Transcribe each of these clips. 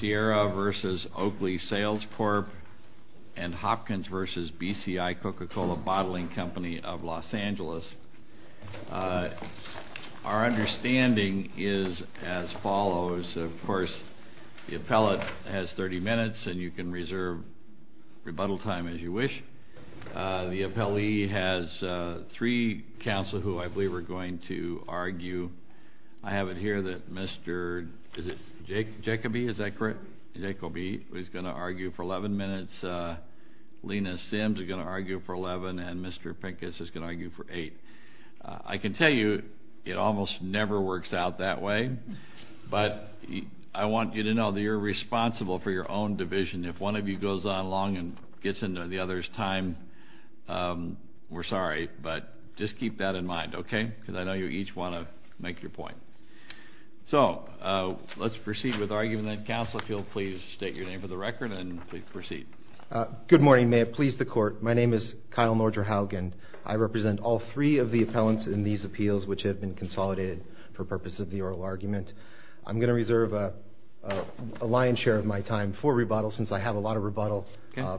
Sierra v. Oakley Sales Corp. and Hopkins v. BCI Coca-Cola Bottling Company of Los Angeles Our understanding is as follows. Of course, the appellate has 30 minutes and you can reserve rebuttal time as you wish. The appellee has three counsel who I believe are going to argue. I have it here that Mr. Jacobi is going to argue for 11 minutes, Lena Sims is going to argue for 11, and Mr. Pincus is going to argue for 8. I can tell you it almost never works out that way, but I want you to know that you're responsible for your own division. If one of you goes on long and gets into the other's time, we're sorry, but just keep that in mind, okay? Because I know you each want to make your point. So let's proceed with the argument. Counsel, if you'll please state your name for the record and proceed. Good morning, may it please the court. My name is Kyle Nordra-Haugen. I represent all three of the appellants in these appeals which have been consolidated for purposes of the oral argument. I'm going to reserve a lion's share of my time for rebuttal since I have a lot of rebuttal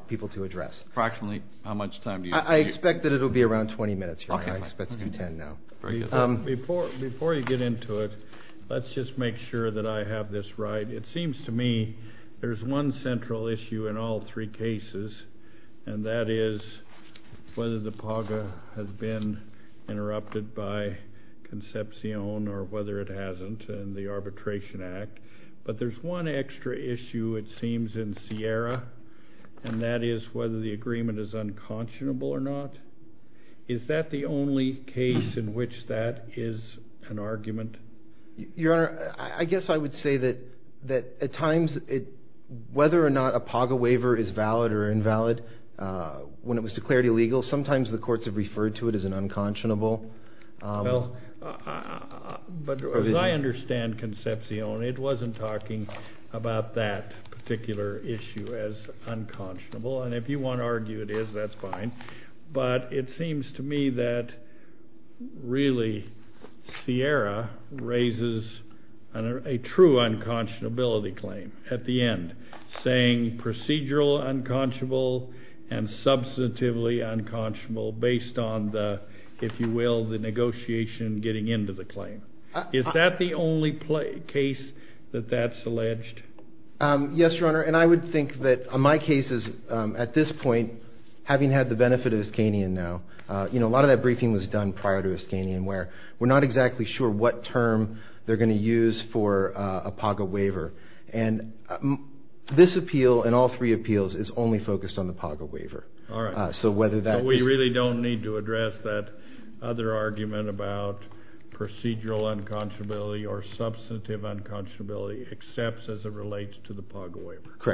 people to address. Approximately how much time do you need? I expect that it will be around 20 minutes. I expect it to be 10 now. Before you get into it, let's just make sure that I have this right. It seems to me there's one central issue in all three cases, and that is whether the PAGA has been interrupted by Concepcion or whether it hasn't in the Arbitration Act, but there's one extra issue it seems in Sierra, and that is whether the agreement is unconscionable or not. Is that the only case in which that is an argument? Your Honor, I guess I would say that at times whether or not a PAGA waiver is valid or invalid, when it was declared illegal, sometimes the courts have referred to it as an unconscionable provision. Well, but as I understand Concepcion, it wasn't talking about that particular issue as unconscionable, and if you want to argue it is, that's fine, but it seems to me that really Sierra raises a true unconscionability claim at the end, saying procedural unconscionable and substantively unconscionable based on the, if you will, the negotiation getting into the claim. Is that the only case that that's alleged? Yes, Your Honor, and I would think that in my cases at this point, having had the benefit of Iskanian now, a lot of that briefing was done prior to Iskanian where we're not exactly sure what term they're going to use for a PAGA waiver, and this appeal and all three appeals is only focused on the PAGA waiver. All right. So whether that is… Correct, Your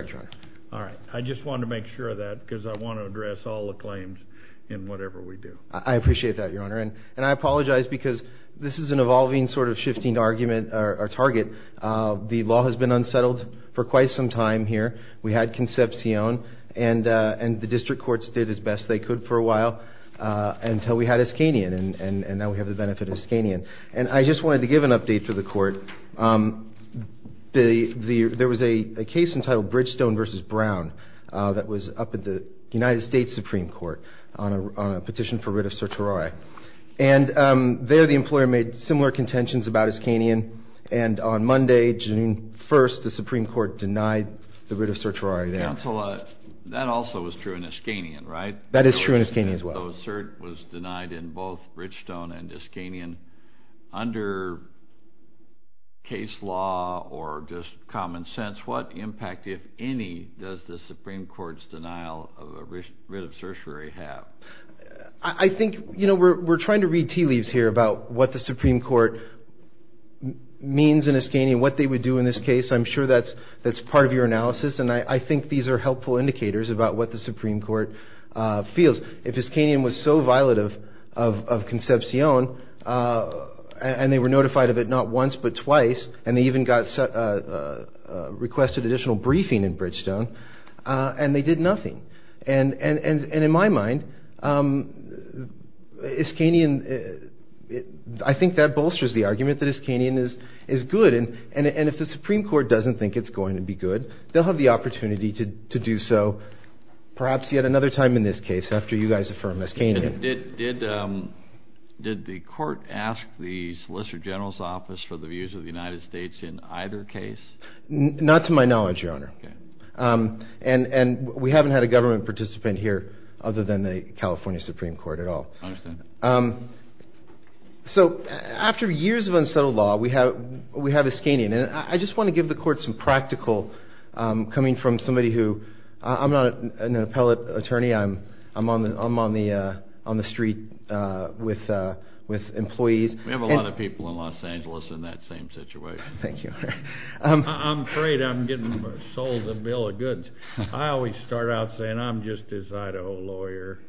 Honor. All right. I just wanted to make sure of that because I want to address all the claims in whatever we do. I appreciate that, Your Honor, and I apologize because this is an evolving sort of shifting argument or target. The law has been unsettled for quite some time here. We had Concepcion, and the district courts did as best they could for a while until we had Iskanian, and now we have the benefit of Iskanian, and I just wanted to give an update to the Court. There was a case entitled Bridgestone v. Brown that was up at the United States Supreme Court on a petition for writ of certiorari, and there the employer made similar contentions about Iskanian, and on Monday, June 1st, the Supreme Court denied the writ of certiorari there. Counsel, that also was true in Iskanian, right? That is true in Iskanian as well. So cert was denied in both Bridgestone and Iskanian. Under case law or just common sense, what impact, if any, does the Supreme Court's denial of a writ of certiorari have? I think we're trying to read tea leaves here about what the Supreme Court means in Iskanian, what they would do in this case. I'm sure that's part of your analysis, and I think these are helpful indicators about what the Supreme Court feels. If Iskanian was so violent of concepcion, and they were notified of it not once but twice, and they even requested additional briefing in Bridgestone, and they did nothing. And in my mind, Iskanian, I think that bolsters the argument that Iskanian is good, and if the Supreme Court doesn't think it's going to be good, they'll have the opportunity to do so perhaps yet another time in this case, after you guys affirm Iskanian. Did the court ask the Solicitor General's Office for the views of the United States in either case? Not to my knowledge, Your Honor. Okay. And we haven't had a government participant here other than the California Supreme Court at all. I understand. So after years of unsettled law, we have Iskanian. And I just want to give the court some practical coming from somebody who I'm not an appellate attorney. I'm on the street with employees. We have a lot of people in Los Angeles in that same situation. Thank you. I'm afraid I'm getting sold a bill of goods. I always start out saying I'm just his Idaho lawyer.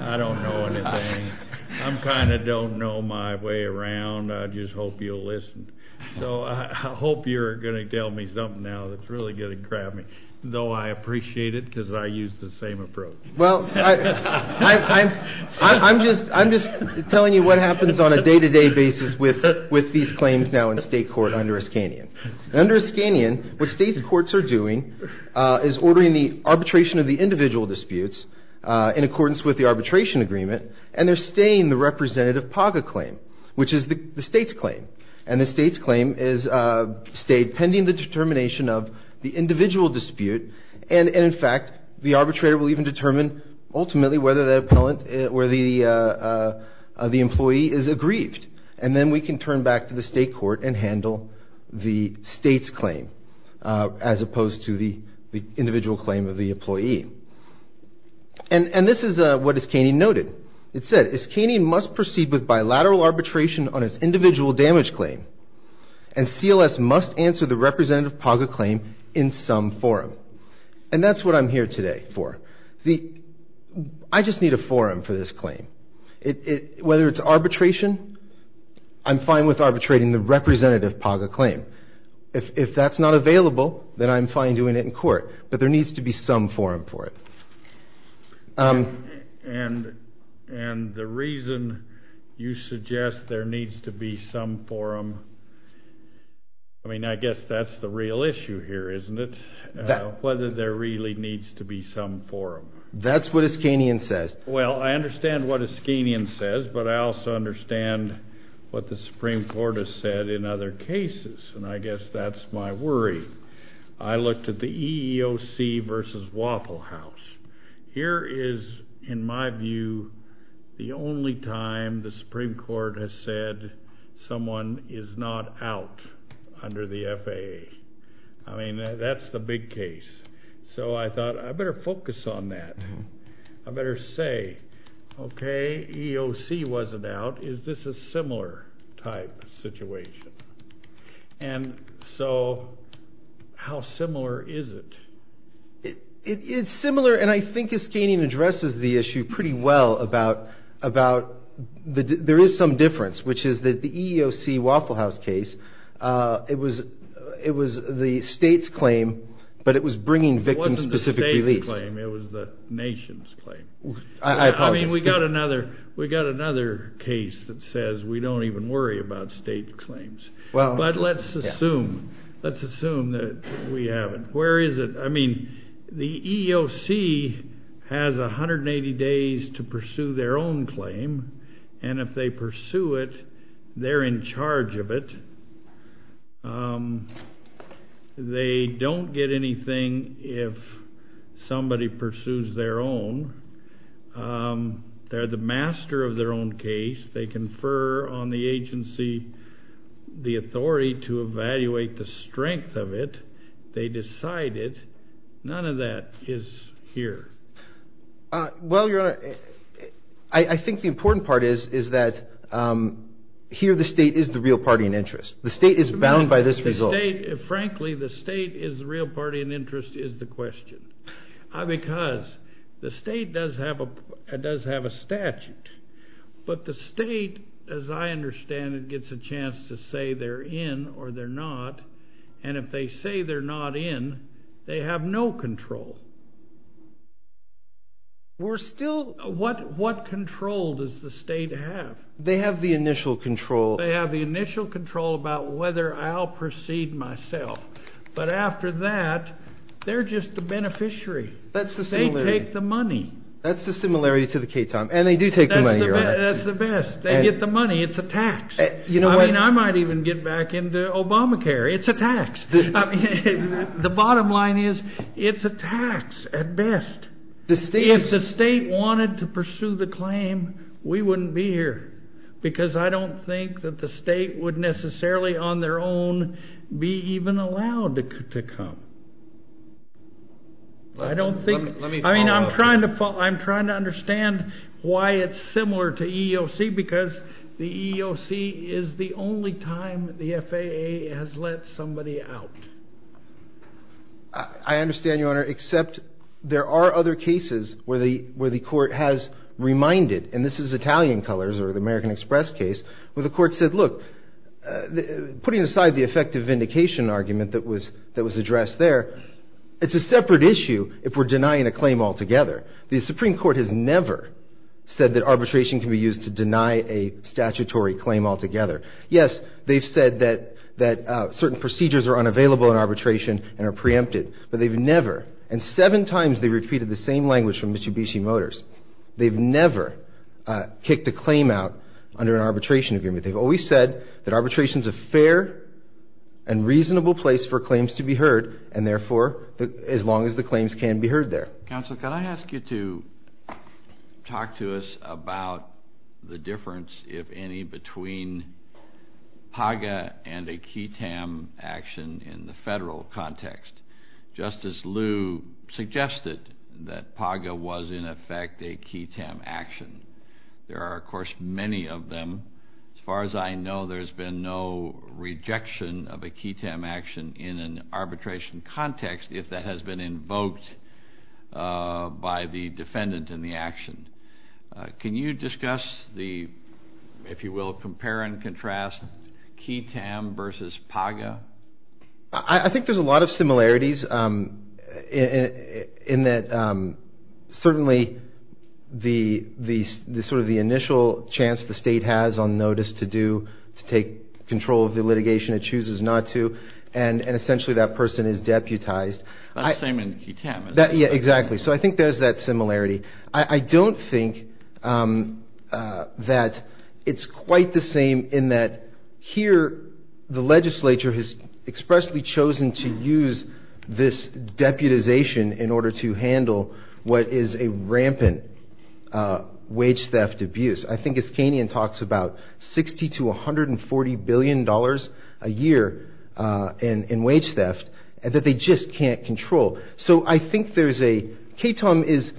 I don't know anything. I kind of don't know my way around. I just hope you'll listen. So I hope you're going to tell me something now that's really going to grab me, though I appreciate it because I use the same approach. Well, I'm just telling you what happens on a day-to-day basis with these claims now in state court under Iskanian. Under Iskanian, what state courts are doing is ordering the arbitration of the individual disputes in accordance with the arbitration agreement, and they're staying the representative PAGA claim, which is the state's claim. And the state's claim is stayed pending the determination of the individual dispute. And, in fact, the arbitrator will even determine ultimately whether the employee is aggrieved. And then we can turn back to the state court and handle the state's claim as opposed to the individual claim of the employee. And this is what Iskanian noted. It said, Iskanian must proceed with bilateral arbitration on its individual damage claim, and CLS must answer the representative PAGA claim in some forum. And that's what I'm here today for. I just need a forum for this claim. Whether it's arbitration, I'm fine with arbitrating the representative PAGA claim. If that's not available, then I'm fine doing it in court. But there needs to be some forum for it. And the reason you suggest there needs to be some forum, I mean, I guess that's the real issue here, isn't it? Whether there really needs to be some forum. That's what Iskanian says. Well, I understand what Iskanian says, but I also understand what the Supreme Court has said in other cases, and I guess that's my worry. I looked at the EEOC versus Waffle House. Here is, in my view, the only time the Supreme Court has said someone is not out under the FAA. I mean, that's the big case. So I thought I better focus on that. I better say, okay, EEOC wasn't out. Is this a similar type situation? And so how similar is it? It's similar, and I think Iskanian addresses the issue pretty well about there is some difference, which is that the EEOC Waffle House case, it was the state's claim, but it was bringing victims specifically. It wasn't the state's claim. It was the nation's claim. I apologize. I mean, we got another case that says we don't even worry about state claims. But let's assume that we haven't. Where is it? I mean, the EEOC has 180 days to pursue their own claim, and if they pursue it, they're in charge of it. They don't get anything if somebody pursues their own. They're the master of their own case. They confer on the agency the authority to evaluate the strength of it. They decide it. None of that is here. Well, Your Honor, I think the important part is that here the state is the real party in interest. The state is bound by this result. Frankly, the state is the real party in interest is the question. Because the state does have a statute, but the state, as I understand it, gets a chance to say they're in or they're not. And if they say they're not in, they have no control. We're still, what control does the state have? They have the initial control. They have the initial control about whether I'll proceed myself. But after that, they're just the beneficiary. They take the money. That's the similarity to the K-Time. And they do take the money, Your Honor. That's the best. They get the money. It's a tax. I mean, I might even get back into Obamacare. It's a tax. The bottom line is it's a tax at best. If the state wanted to pursue the claim, we wouldn't be here. Because I don't think that the state would necessarily on their own be even allowed to come. I don't think. Let me follow up. I mean, I'm trying to understand why it's similar to EEOC, because the EEOC is the only time the FAA has let somebody out. I understand, Your Honor. There are other cases where the court has reminded, and this is Italian colors or the American Express case, where the court said, look, putting aside the effective vindication argument that was addressed there, it's a separate issue if we're denying a claim altogether. The Supreme Court has never said that arbitration can be used to deny a statutory claim altogether. Yes, they've said that certain procedures are unavailable in arbitration and are preempted. But they've never, and seven times they've repeated the same language from Mr. Bishi Motors, they've never kicked a claim out under an arbitration agreement. They've always said that arbitration is a fair and reasonable place for claims to be heard, and therefore as long as the claims can be heard there. Counsel, could I ask you to talk to us about the difference, if any, between PAGA and a QTAM action in the federal context? Justice Liu suggested that PAGA was, in effect, a QTAM action. There are, of course, many of them. As far as I know, there's been no rejection of a QTAM action in an arbitration context if that has been invoked by the defendant in the action. Can you discuss the, if you will, compare and contrast QTAM versus PAGA? I think there's a lot of similarities in that certainly the initial chance the state has on notice to do, to take control of the litigation, it chooses not to, and essentially that person is deputized. The same in QTAM. Yeah, exactly. So I think there's that similarity. I don't think that it's quite the same in that here the legislature has expressly chosen to use this deputization in order to handle what is a rampant wage theft abuse. I think Iskanian talks about $60 to $140 billion a year in wage theft that they just can't control. So I think there's a, QTAM is,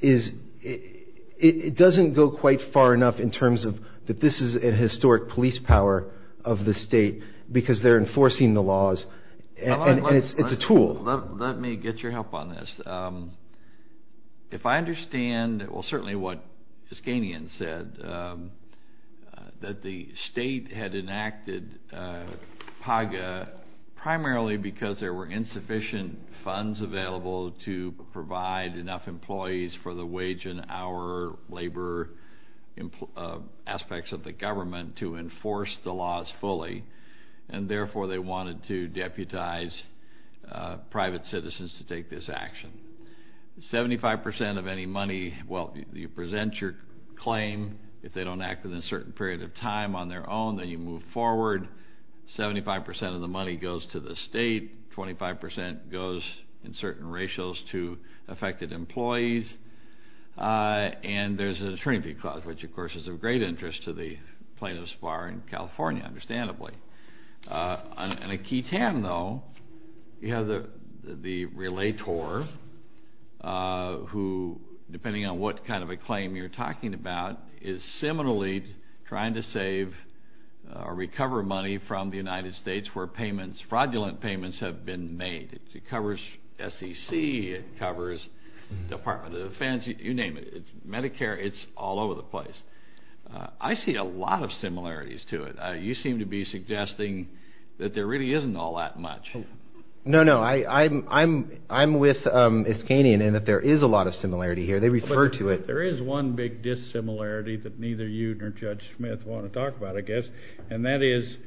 it doesn't go quite far enough in terms of that this is a historic police power of the state because they're enforcing the laws and it's a tool. Let me get your help on this. If I understand, well certainly what Iskanian said, that the state had enacted PAGA primarily because there were insufficient funds available to provide enough employees for the wage and hour labor aspects of the government to enforce the laws fully and therefore they wanted to deputize private citizens to take this action. 75% of any money, well you present your claim. If they don't act within a certain period of time on their own, then you move forward. 75% of the money goes to the state. 25% goes in certain ratios to affected employees. And there's an attorney fee clause, which of course is of great interest to the plaintiffs bar in California, understandably. On a QTAM though, you have the relator who, depending on what kind of a claim you're talking about, is similarly trying to save or recover money from the United States where fraudulent payments have been made. It covers SEC, it covers Department of Defense, you name it. It's Medicare, it's all over the place. I see a lot of similarities to it. You seem to be suggesting that there really isn't all that much. No, no. I'm with Iskanian in that there is a lot of similarity here. They refer to it. There is one big dissimilarity that neither you nor Judge Smith want to talk about, I guess, and that is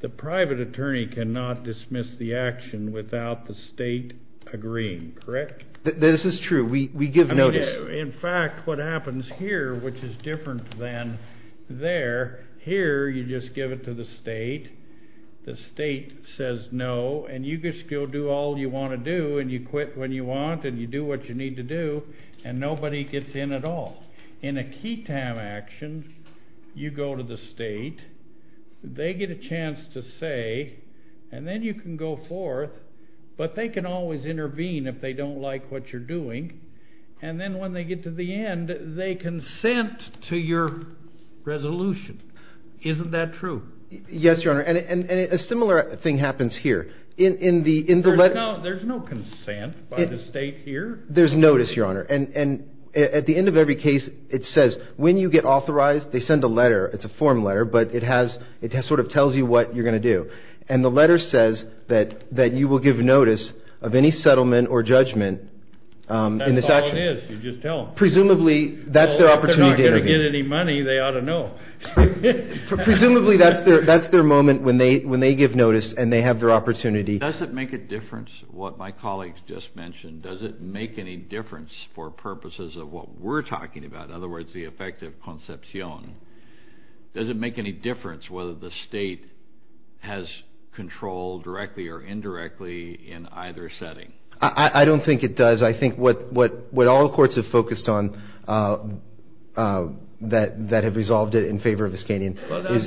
the private attorney cannot dismiss the action without the state agreeing, correct? This is true. We give notice. In fact, what happens here, which is different than there, here you just give it to the state. The state says no, and you just go do all you want to do, and you quit when you want, and you do what you need to do, and nobody gets in at all. In a key time action, you go to the state, they get a chance to say, and then you can go forth, but they can always intervene if they don't like what you're doing, and then when they get to the end, they consent to your resolution. Isn't that true? Yes, Your Honor, and a similar thing happens here. There's no consent by the state here. There's notice, Your Honor. At the end of every case, it says when you get authorized, they send a letter. It's a form letter, but it sort of tells you what you're going to do, and the letter says that you will give notice of any settlement or judgment in this action. That's all it is. You just tell them. Presumably, that's their opportunity to intervene. If they're not going to get any money, they ought to know. Presumably, that's their moment when they give notice and they have their opportunity. Does it make a difference what my colleagues just mentioned? Does it make any difference for purposes of what we're talking about, in other words, the effect of concepcion? Does it make any difference whether the state has control directly or indirectly in either setting? I don't think it does. I think what all the courts have focused on that have resolved it in favor of Viscanian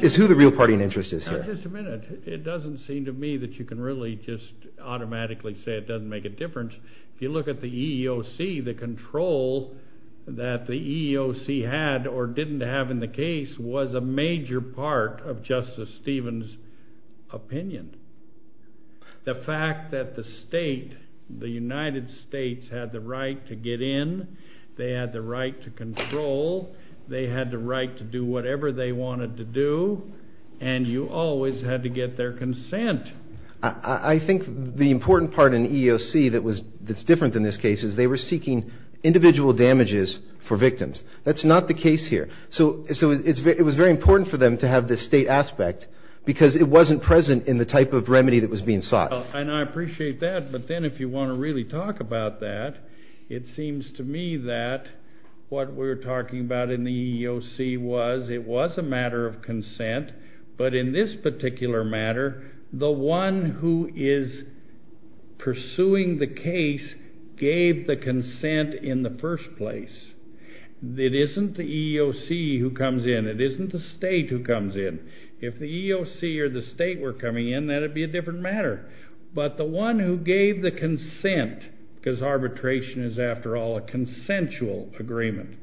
is who the real party in interest is here. Now, just a minute. It doesn't seem to me that you can really just automatically say it doesn't make a difference if you look at the EEOC, the control that the EEOC had or didn't have in the case was a major part of Justice Stevens' opinion. The fact that the state, the United States, had the right to get in, they had the right to control, they had the right to do whatever they wanted to do, and you always had to get their consent. I think the important part in the EEOC that's different than this case is they were seeking individual damages for victims. That's not the case here. So it was very important for them to have this state aspect because it wasn't present in the type of remedy that was being sought. And I appreciate that, but then if you want to really talk about that, it seems to me that what we're talking about in the EEOC was it was a matter of consent, but in this particular matter, the one who is pursuing the case gave the consent in the first place. It isn't the EEOC who comes in. It isn't the state who comes in. If the EEOC or the state were coming in, that would be a different matter. But the one who gave the consent, because arbitration is, after all, a consensual agreement,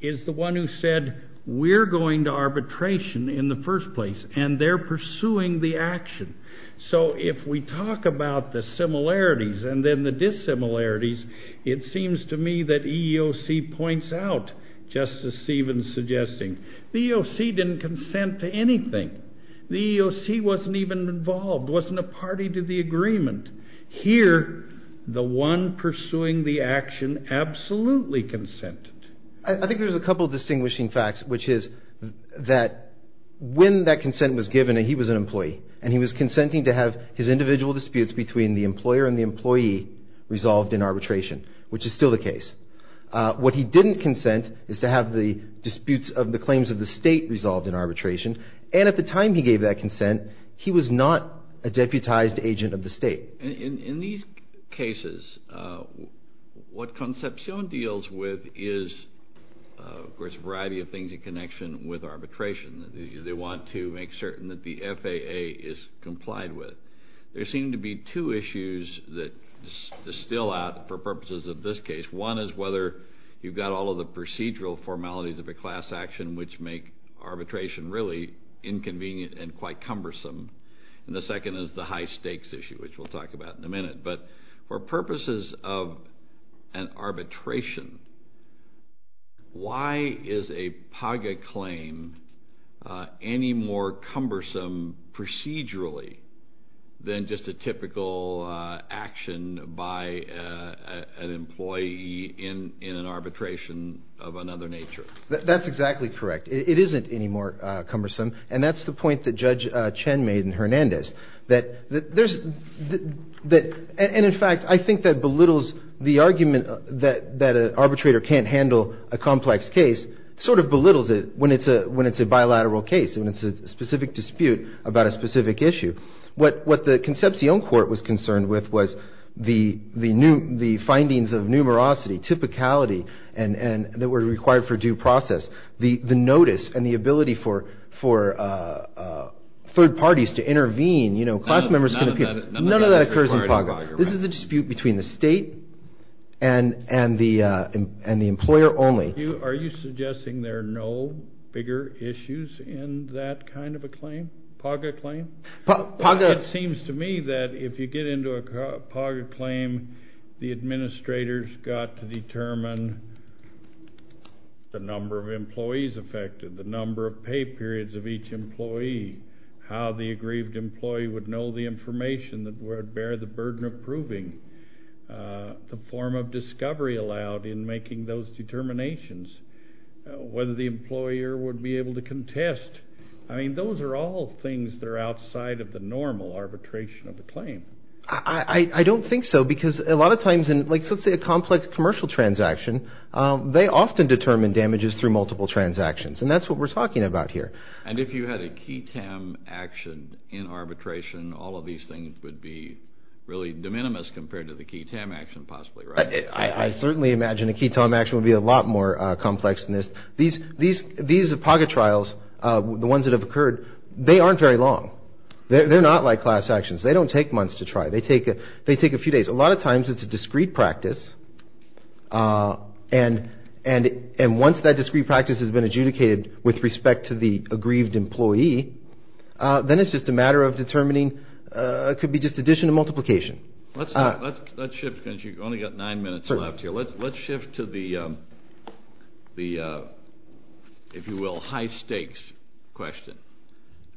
is the one who said we're going to arbitration in the first place, and they're pursuing the action. So if we talk about the similarities and then the dissimilarities, it seems to me that EEOC points out, just as Stephen's suggesting, the EEOC didn't consent to anything. The EEOC wasn't even involved, wasn't a party to the agreement. Here, the one pursuing the action absolutely consented. I think there's a couple of distinguishing facts, which is that when that consent was given and he was an employee and he was consenting to have his individual disputes between the employer and the employee resolved in arbitration, which is still the case, what he didn't consent is to have the disputes of the claims of the state resolved in arbitration, and at the time he gave that consent, he was not a deputized agent of the state. In these cases, what Concepcion deals with is, of course, a variety of things in connection with arbitration. They want to make certain that the FAA is complied with. There seem to be two issues that are still out for purposes of this case. One is whether you've got all of the procedural formalities of a class action, which make arbitration really inconvenient and quite cumbersome, and the second is the high stakes issue, which we'll talk about in a minute. But for purposes of an arbitration, why is a PAGA claim any more cumbersome procedurally than just a typical action by an employee in an arbitration of another nature? That's exactly correct. It isn't any more cumbersome, and that's the point that Judge Chen made in Hernandez, and in fact, I think that belittles the argument that an arbitrator can't handle a complex case, sort of belittles it when it's a bilateral case, when it's a specific dispute about a specific issue. What the Concepcion court was concerned with was the findings of numerosity, typicality that were required for due process, the notice and the ability for third parties to intervene, you know, class members can appear. None of that occurs in PAGA. This is a dispute between the state and the employer only. Are you suggesting there are no bigger issues in that kind of a claim, PAGA claim? It seems to me that if you get into a PAGA claim, the administrators got to determine the number of employees affected, the number of pay periods of each employee, how the aggrieved employee would know the information that would bear the burden of proving the form of discovery allowed in making those determinations, whether the employer would be able to contest. I mean, those are all things that are outside of the normal arbitration of a claim. I don't think so because a lot of times in, like, let's say a complex commercial transaction, they often determine damages through multiple transactions, and that's what we're talking about here. And if you had a key TAM action in arbitration, all of these things would be really de minimis compared to the key TAM action possibly, right? I certainly imagine a key TAM action would be a lot more complex than this. These PAGA trials, the ones that have occurred, they aren't very long. They're not like class actions. They don't take months to try. They take a few days. A lot of times it's a discrete practice, and once that discrete practice has been adjudicated with respect to the aggrieved employee, then it's just a matter of determining it could be just addition or multiplication. Let's shift because you've only got nine minutes left here. Let's shift to the, if you will, high stakes question.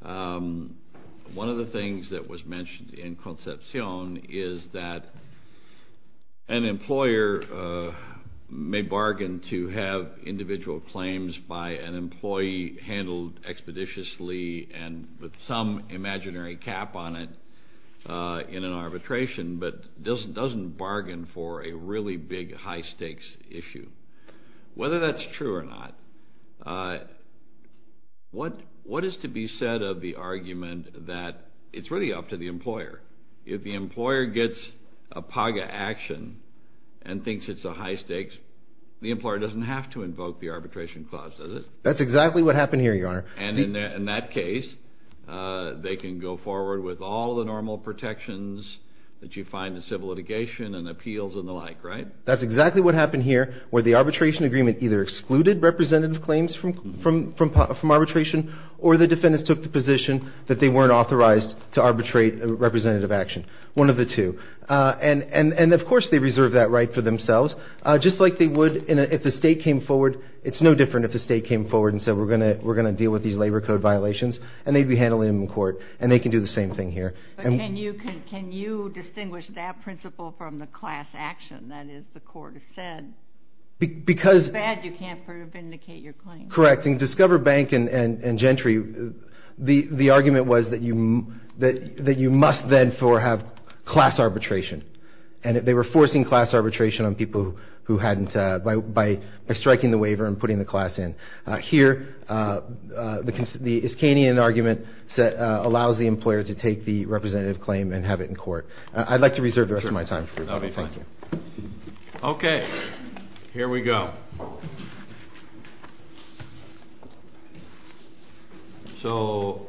One of the things that was mentioned in Concepcion is that an employer may bargain to have individual claims by an employee handled expeditiously and with some imaginary cap on it in an arbitration but doesn't bargain for a really big high stakes issue. Whether that's true or not, what is to be said of the argument that it's really up to the employer? If the employer gets a PAGA action and thinks it's a high stakes, the employer doesn't have to invoke the arbitration clause, does it? That's exactly what happened here, Your Honor. And in that case, they can go forward with all the normal protections that you find in civil litigation and appeals and the like, right? That's exactly what happened here where the arbitration agreement either excluded representative claims from arbitration or the defendants took the position that they weren't authorized to arbitrate a representative action, one of the two. And, of course, they reserved that right for themselves just like they would if the state came forward. It's no different if the state came forward and said we're going to deal with these labor code violations and they'd be handling them in court and they can do the same thing here. But can you distinguish that principle from the class action? That is, the court has said, it's bad, you can't vindicate your claim. Correct. In Discover Bank and Gentry, the argument was that you must then have class arbitration. And they were forcing class arbitration on people by striking the waiver and putting the class in. Here, the Iskanian argument allows the employer to take the representative claim and have it in court. I'd like to reserve the rest of my time. That would be fine. Thank you. Okay. Here we go. So,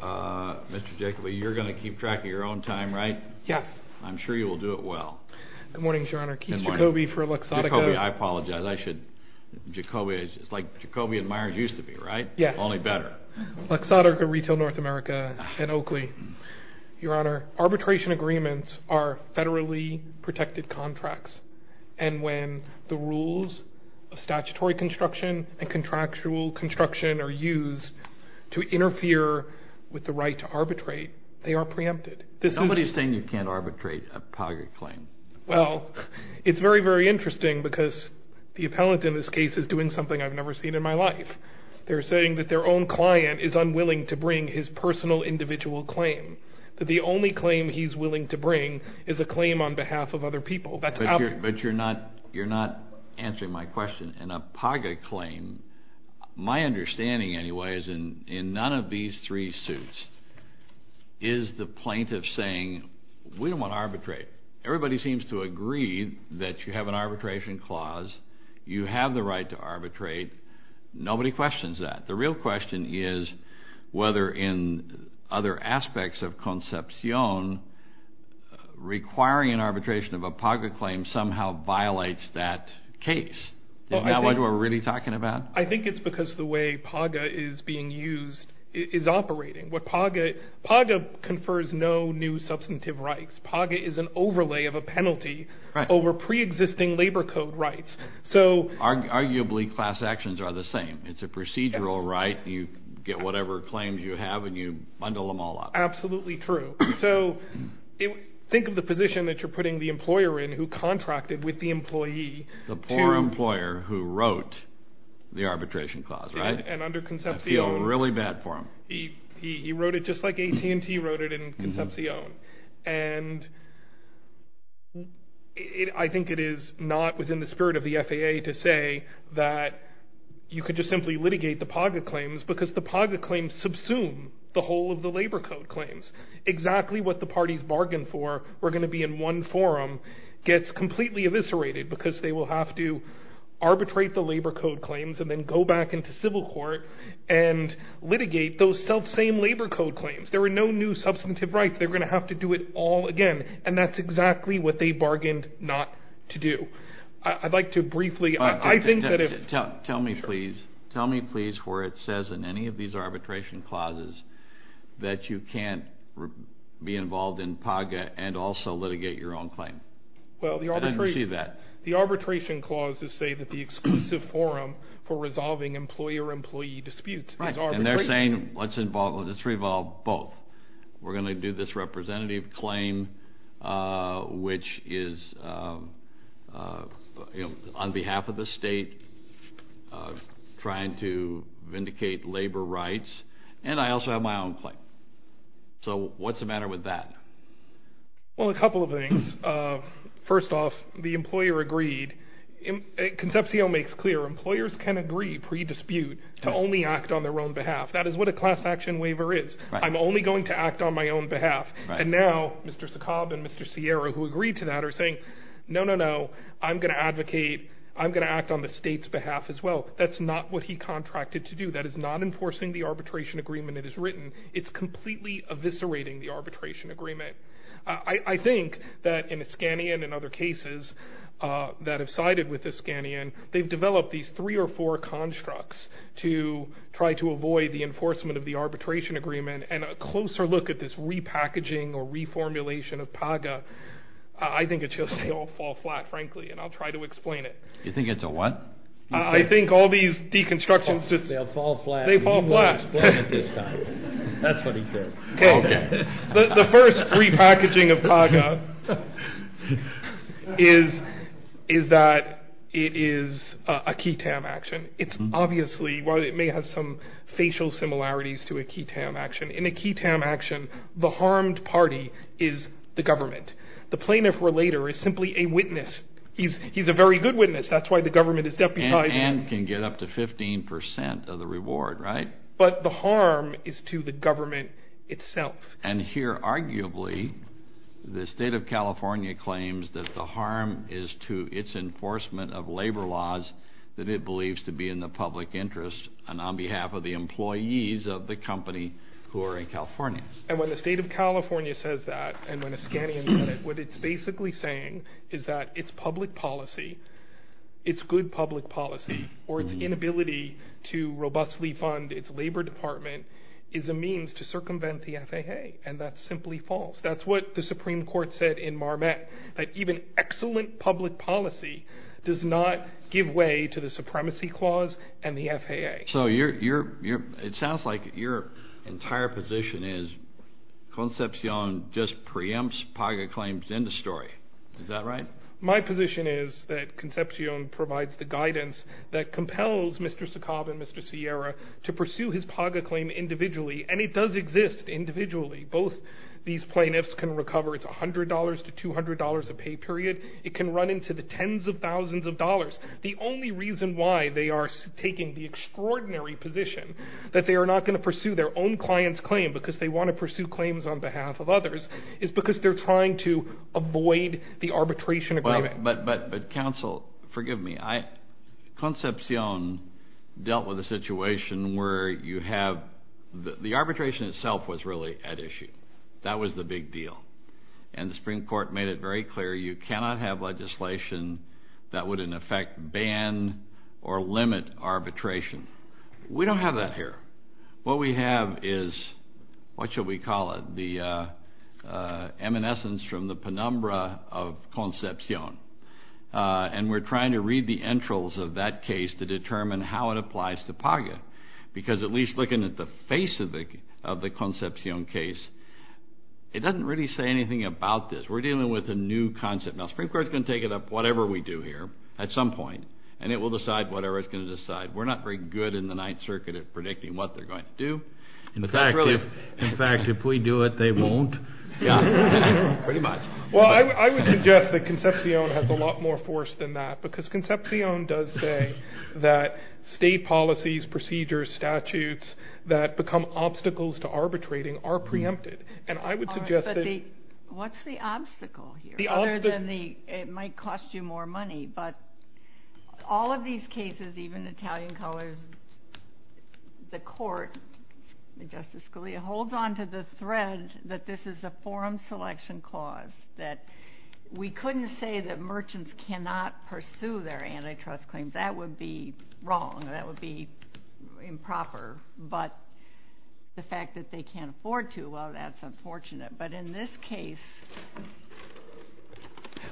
Mr. Jacoby, you're going to keep track of your own time, right? Yes. I'm sure you will do it well. Good morning, Your Honor. Good morning. Keith Jacoby for Luxottica. Jacoby, I apologize. It's like Jacoby and Myers used to be, right? Yes. Only better. Luxottica, Retail North America, and Oakley. Your Honor, arbitration agreements are federally protected contracts. And when the rules of statutory construction and contractual construction are used to interfere with the right to arbitrate, they are preempted. Nobody's saying you can't arbitrate a poverty claim. Well, it's very, very interesting because the appellant in this case is doing something I've never seen in my life. They're saying that their own client is unwilling to bring his personal individual claim, that the only claim he's willing to bring is a claim on behalf of other people. But you're not answering my question. My understanding, anyway, is in none of these three suits is the plaintiff saying, we don't want to arbitrate. Everybody seems to agree that you have an arbitration clause. You have the right to arbitrate. Nobody questions that. The real question is whether in other aspects of concepcion, requiring an arbitration of a paga claim somehow violates that case. Is that what we're really talking about? I think it's because the way paga is being used is operating. Paga confers no new substantive rights. Paga is an overlay of a penalty over preexisting labor code rights. Arguably, class actions are the same. It's a procedural right. You get whatever claims you have and you bundle them all up. Absolutely true. So think of the position that you're putting the employer in who contracted with the employee. The poor employer who wrote the arbitration clause, right? And under concepcion. I feel really bad for him. He wrote it just like AT&T wrote it in concepcion. And I think it is not within the spirit of the FAA to say that you could just simply litigate the paga claims because the paga claims subsume the whole of the labor code claims. Exactly what the parties bargained for, we're going to be in one forum, gets completely eviscerated because they will have to arbitrate the labor code claims and then go back into civil court and litigate those self-same labor code claims. There are no new substantive rights. They're going to have to do it all again. And that's exactly what they bargained not to do. I'd like to briefly. I think that if. Tell me, please. Tell me, please, where it says in any of these arbitration clauses that you can't be involved in paga and also litigate your own claim. Well, the arbitration. I didn't see that. The arbitration clauses say that the exclusive forum for resolving employer-employee disputes is arbitration. And they're saying let's involve, let's revolve both. We're going to do this representative claim, which is on behalf of the state, trying to vindicate labor rights. And I also have my own claim. So what's the matter with that? Well, a couple of things. First off, the employer agreed. Concepcion makes clear employers can agree pre-dispute to only act on their own behalf. That is what a class action waiver is. I'm only going to act on my own behalf. And now Mr. Sokob and Mr. Sierra, who agreed to that, are saying no, no, no. I'm going to advocate. I'm going to act on the state's behalf as well. That's not what he contracted to do. That is not enforcing the arbitration agreement it is written. It's completely eviscerating the arbitration agreement. I think that in Iskanian and other cases that have sided with Iskanian, they've developed these three or four constructs to try to avoid the enforcement of the arbitration agreement. And a closer look at this repackaging or reformulation of PAGA, I think it should all fall flat, frankly. And I'll try to explain it. You think it's a what? I think all these deconstructions just fall flat. They fall flat. That's what he said. The first repackaging of PAGA is that it is a key TAM action. It's obviously, while it may have some facial similarities to a key TAM action, in a key TAM action the harmed party is the government. The plaintiff relater is simply a witness. He's a very good witness. That's why the government is deputizing him. And can get up to 15 percent of the reward, right? But the harm is to the government itself. And here, arguably, the state of California claims that the harm is to its enforcement of labor laws that it believes to be in the public interest and on behalf of the employees of the company who are in California. And when the state of California says that and when Iskanian said it, what it's basically saying is that it's public policy, it's good public policy, or its inability to robustly fund its labor department is a means to circumvent the FAA. And that's simply false. That's what the Supreme Court said in Marmette, that even excellent public policy does not give way to the supremacy clause and the FAA. So it sounds like your entire position is Concepcion just preempts PAGA claims in the story. Is that right? My position is that Concepcion provides the guidance that compels Mr. Sokov and Mr. Sierra to pursue his PAGA claim individually. And it does exist individually. Both these plaintiffs can recover $100 to $200 a pay period. It can run into the tens of thousands of dollars. The only reason why they are taking the extraordinary position that they are not going to pursue their own client's claim because they want to pursue claims on behalf of others is because they are trying to avoid the arbitration agreement. But counsel, forgive me, Concepcion dealt with a situation where you have, the arbitration itself was really at issue. That was the big deal. And the Supreme Court made it very clear you cannot have legislation that would in effect ban or limit arbitration. We don't have that here. What we have is, what shall we call it, the eminence from the penumbra of Concepcion. And we're trying to read the entrails of that case to determine how it applies to PAGA because at least looking at the face of the Concepcion case, it doesn't really say anything about this. We're dealing with a new concept. Now, the Supreme Court is going to take it up whatever we do here at some point, and it will decide whatever it's going to decide. We're not very good in the Ninth Circuit at predicting what they're going to do. In fact, if we do it, they won't. Pretty much. Well, I would suggest that Concepcion has a lot more force than that because Concepcion does say that state policies, procedures, statutes that become obstacles to arbitrating are preempted. And I would suggest that... What's the obstacle here? Other than it might cost you more money. But all of these cases, even Italian colors, the court, Justice Scalia, holds onto the thread that this is a forum selection clause, that we couldn't say that merchants cannot pursue their antitrust claims. That would be wrong. That would be improper. But the fact that they can't afford to, well, that's unfortunate. But in this case...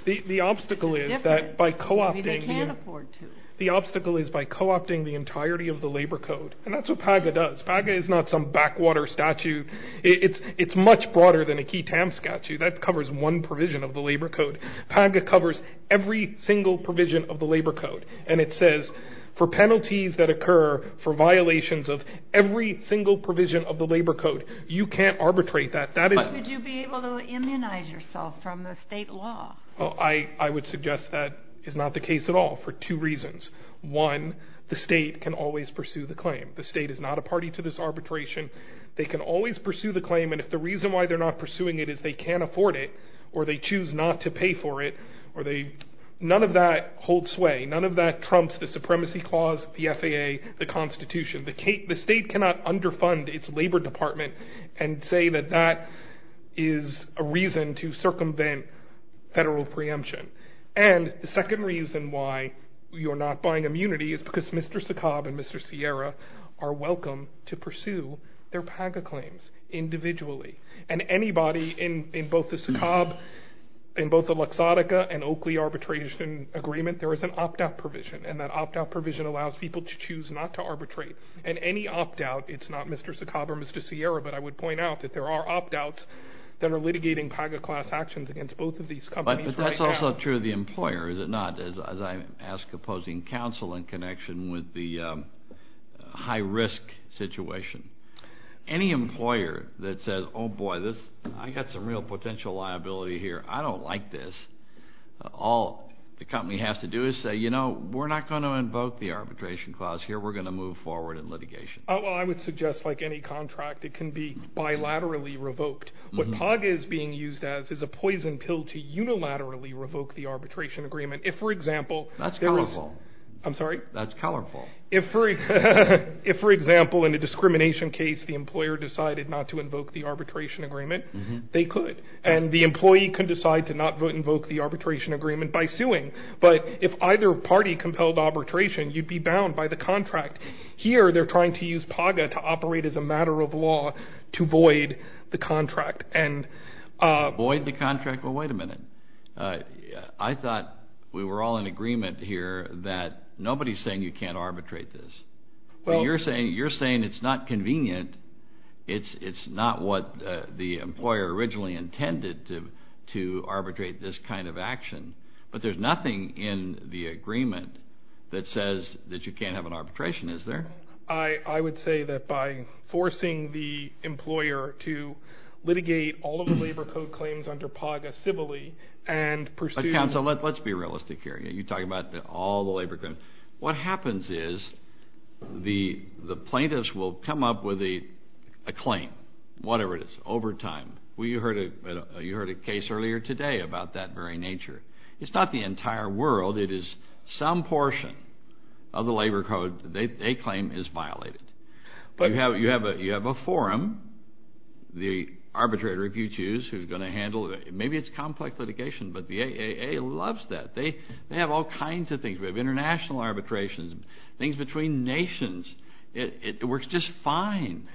The obstacle is that by co-opting... Maybe they can't afford to. The obstacle is by co-opting the entirety of the Labor Code. And that's what PAGA does. PAGA is not some backwater statute. It's much broader than a key TAM statute. That covers one provision of the Labor Code. PAGA covers every single provision of the Labor Code. And it says for penalties that occur for violations of every single provision of the Labor Code, you can't arbitrate that. But would you be able to immunize yourself from the state law? I would suggest that is not the case at all for two reasons. One, the state can always pursue the claim. The state is not a party to this arbitration. They can always pursue the claim. And if the reason why they're not pursuing it is they can't afford it, or they choose not to pay for it, none of that holds sway. None of that trumps the supremacy clause, the FAA, the Constitution. The state cannot underfund its Labor Department and say that that is a reason to circumvent federal preemption. And the second reason why you're not buying immunity is because Mr. Sokob and Mr. Sierra are welcome to pursue their PAGA claims individually. And anybody in both the Sokob, in both the Luxottica and Oakley arbitration agreement, there is an opt-out provision. And that opt-out provision allows people to choose not to arbitrate. And any opt-out, it's not Mr. Sokob or Mr. Sierra, but I would point out that there are opt-outs that are litigating PAGA class actions against both of these companies right now. But that's also true of the employer, is it not, as I ask opposing counsel in connection with the high-risk situation. Any employer that says, oh boy, I've got some real potential liability here, I don't like this, all the company has to do is say, you know, we're not going to invoke the arbitration clause here. We're going to move forward in litigation. Well, I would suggest like any contract, it can be bilaterally revoked. What PAGA is being used as is a poison pill to unilaterally revoke the arbitration agreement. That's colorful. I'm sorry? That's colorful. If, for example, in a discrimination case, the employer decided not to invoke the arbitration agreement, they could. And the employee can decide to not invoke the arbitration agreement by suing. But if either party compelled arbitration, you'd be bound by the contract. Here they're trying to use PAGA to operate as a matter of law to void the contract. Void the contract? Well, wait a minute. I thought we were all in agreement here that nobody is saying you can't arbitrate this. You're saying it's not convenient. It's not what the employer originally intended to arbitrate this kind of action. But there's nothing in the agreement that says that you can't have an arbitration, is there? I would say that by forcing the employer to litigate all of the labor code claims under PAGA civilly and pursue... But, counsel, let's be realistic here. You talk about all the labor claims. What happens is the plaintiffs will come up with a claim, whatever it is, overtime. You heard a case earlier today about that very nature. It's not the entire world. It is some portion of the labor code they claim is violated. You have a forum, the arbitrator, if you choose, who's going to handle it. Maybe it's complex litigation, but the AAA loves that. They have all kinds of things. We have international arbitrations, things between nations. It works just fine.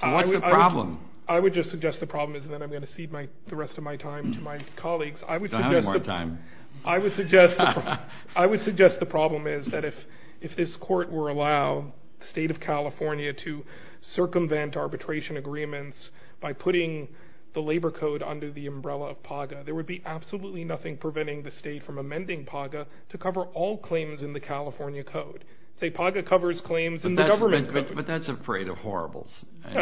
So what's the problem? I would just suggest the problem is that I'm going to cede the rest of my time to my colleagues. I don't have any more time. I would suggest the problem is that if this court were allowed the state of California to circumvent arbitration agreements by putting the labor code under the umbrella of PAGA, there would be absolutely nothing preventing the state from amending PAGA to cover all claims in the California code. Say PAGA covers claims in the government code. But that's afraid of horribles. Justice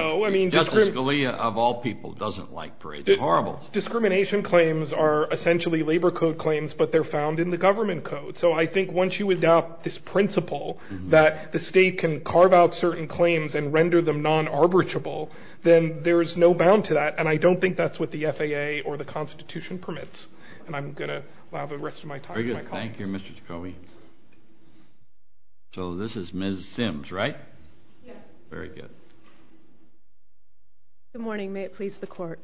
Scalia, of all people, doesn't like PAGA. They're horrible. Discrimination claims are essentially labor code claims, but they're found in the government code. So I think once you adopt this principle that the state can carve out certain claims and render them non-arbitrable, then there is no bound to that, and I don't think that's what the FAA or the Constitution permits. And I'm going to allow the rest of my time to my colleagues. Very good. Thank you, Mr. Tacomi. So this is Ms. Sims, right? Yes. Very good. Good morning. May it please the Court.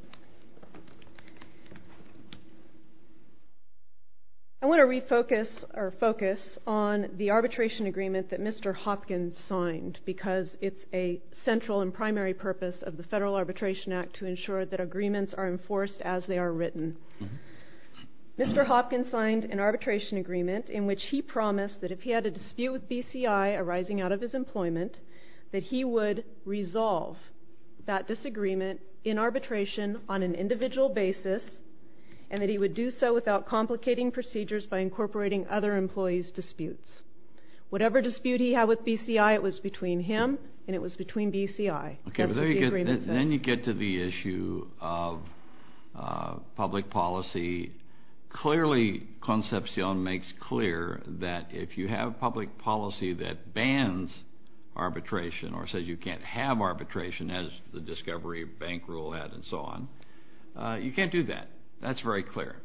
I want to refocus or focus on the arbitration agreement that Mr. Hopkins signed because it's a central and primary purpose of the Federal Arbitration Act to ensure that agreements are enforced as they are written. Mr. Hopkins signed an arbitration agreement in which he promised that if he had a dispute with BCI arising out of his employment, that he would resolve that disagreement in arbitration on an individual basis and that he would do so without complicating procedures by incorporating other employees' disputes. Whatever dispute he had with BCI, it was between him and it was between BCI. That's what the agreement says. Then you get to the issue of public policy. Clearly, Concepcion makes clear that if you have public policy that bans arbitration or says you can't have arbitration as the Discovery Bank rule had and so on, you can't do that. That's very clear.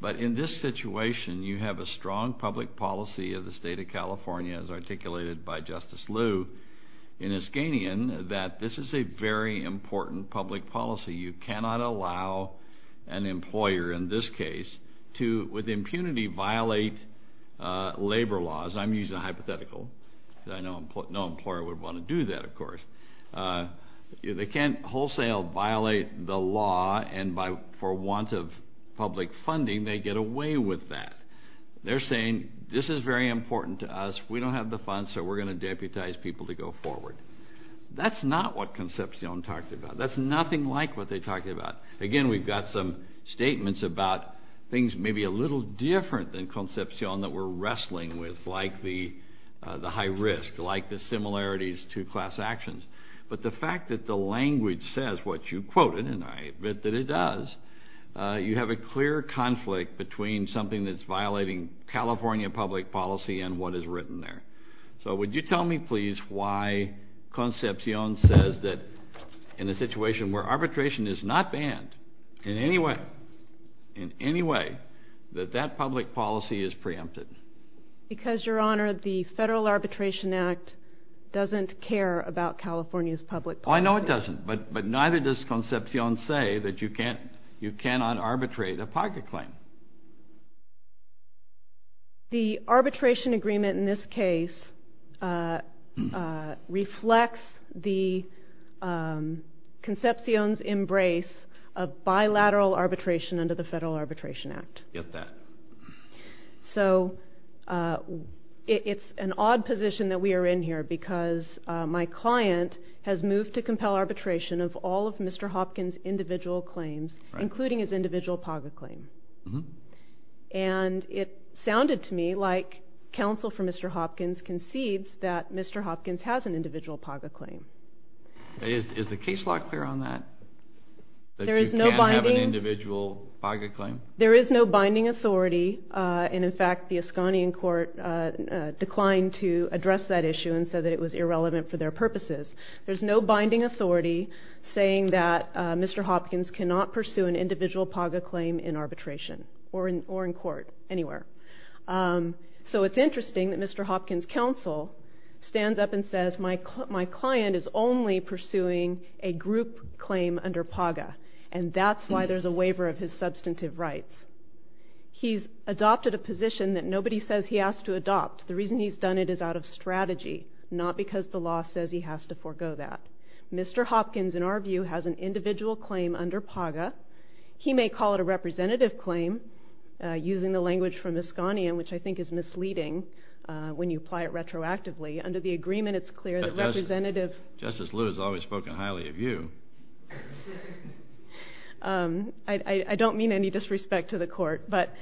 But in this situation, you have a strong public policy of the State of California, as articulated by Justice Liu in Iskanian, that this is a very important public policy. You cannot allow an employer in this case to, with impunity, violate labor laws. I'm using a hypothetical because I know no employer would want to do that, of course. They can't wholesale violate the law and for want of public funding, they get away with that. They're saying this is very important to us. We don't have the funds, so we're going to deputize people to go forward. That's not what Concepcion talked about. That's nothing like what they talked about. Again, we've got some statements about things maybe a little different than Concepcion that we're wrestling with, like the high risk, like the similarities to class actions. But the fact that the language says what you quoted, and I admit that it does, you have a clear conflict between something that's violating California public policy and what is written there. So would you tell me, please, why Concepcion says that in a situation where arbitration is not banned in any way, in any way, that that public policy is preempted? Because, Your Honor, the Federal Arbitration Act doesn't care about California's public policy. I know it doesn't, but neither does Concepcion say that you cannot arbitrate a pocket claim. Why? The arbitration agreement in this case reflects Concepcion's embrace of bilateral arbitration under the Federal Arbitration Act. Get that. So it's an odd position that we are in here because my client has moved to compel arbitration of all of Mr. Hopkins' individual claims, including his individual pocket claim. And it sounded to me like counsel for Mr. Hopkins concedes that Mr. Hopkins has an individual pocket claim. Is the case law clear on that, that you can't have an individual pocket claim? There is no binding authority. And, in fact, the Esconian court declined to address that issue and said that it was irrelevant for their purposes. There's no binding authority saying that Mr. Hopkins cannot pursue an individual pocket claim in arbitration or in court, anywhere. So it's interesting that Mr. Hopkins' counsel stands up and says, my client is only pursuing a group claim under pocket. And that's why there's a waiver of his substantive rights. He's adopted a position that nobody says he has to adopt. The reason he's done it is out of strategy, not because the law says he has to forego that. Mr. Hopkins, in our view, has an individual claim under PAGA. He may call it a representative claim, using the language from Esconian, which I think is misleading when you apply it retroactively. Under the agreement, it's clear that representative. Justice Liu has always spoken highly of you. I don't mean any disrespect to the court. But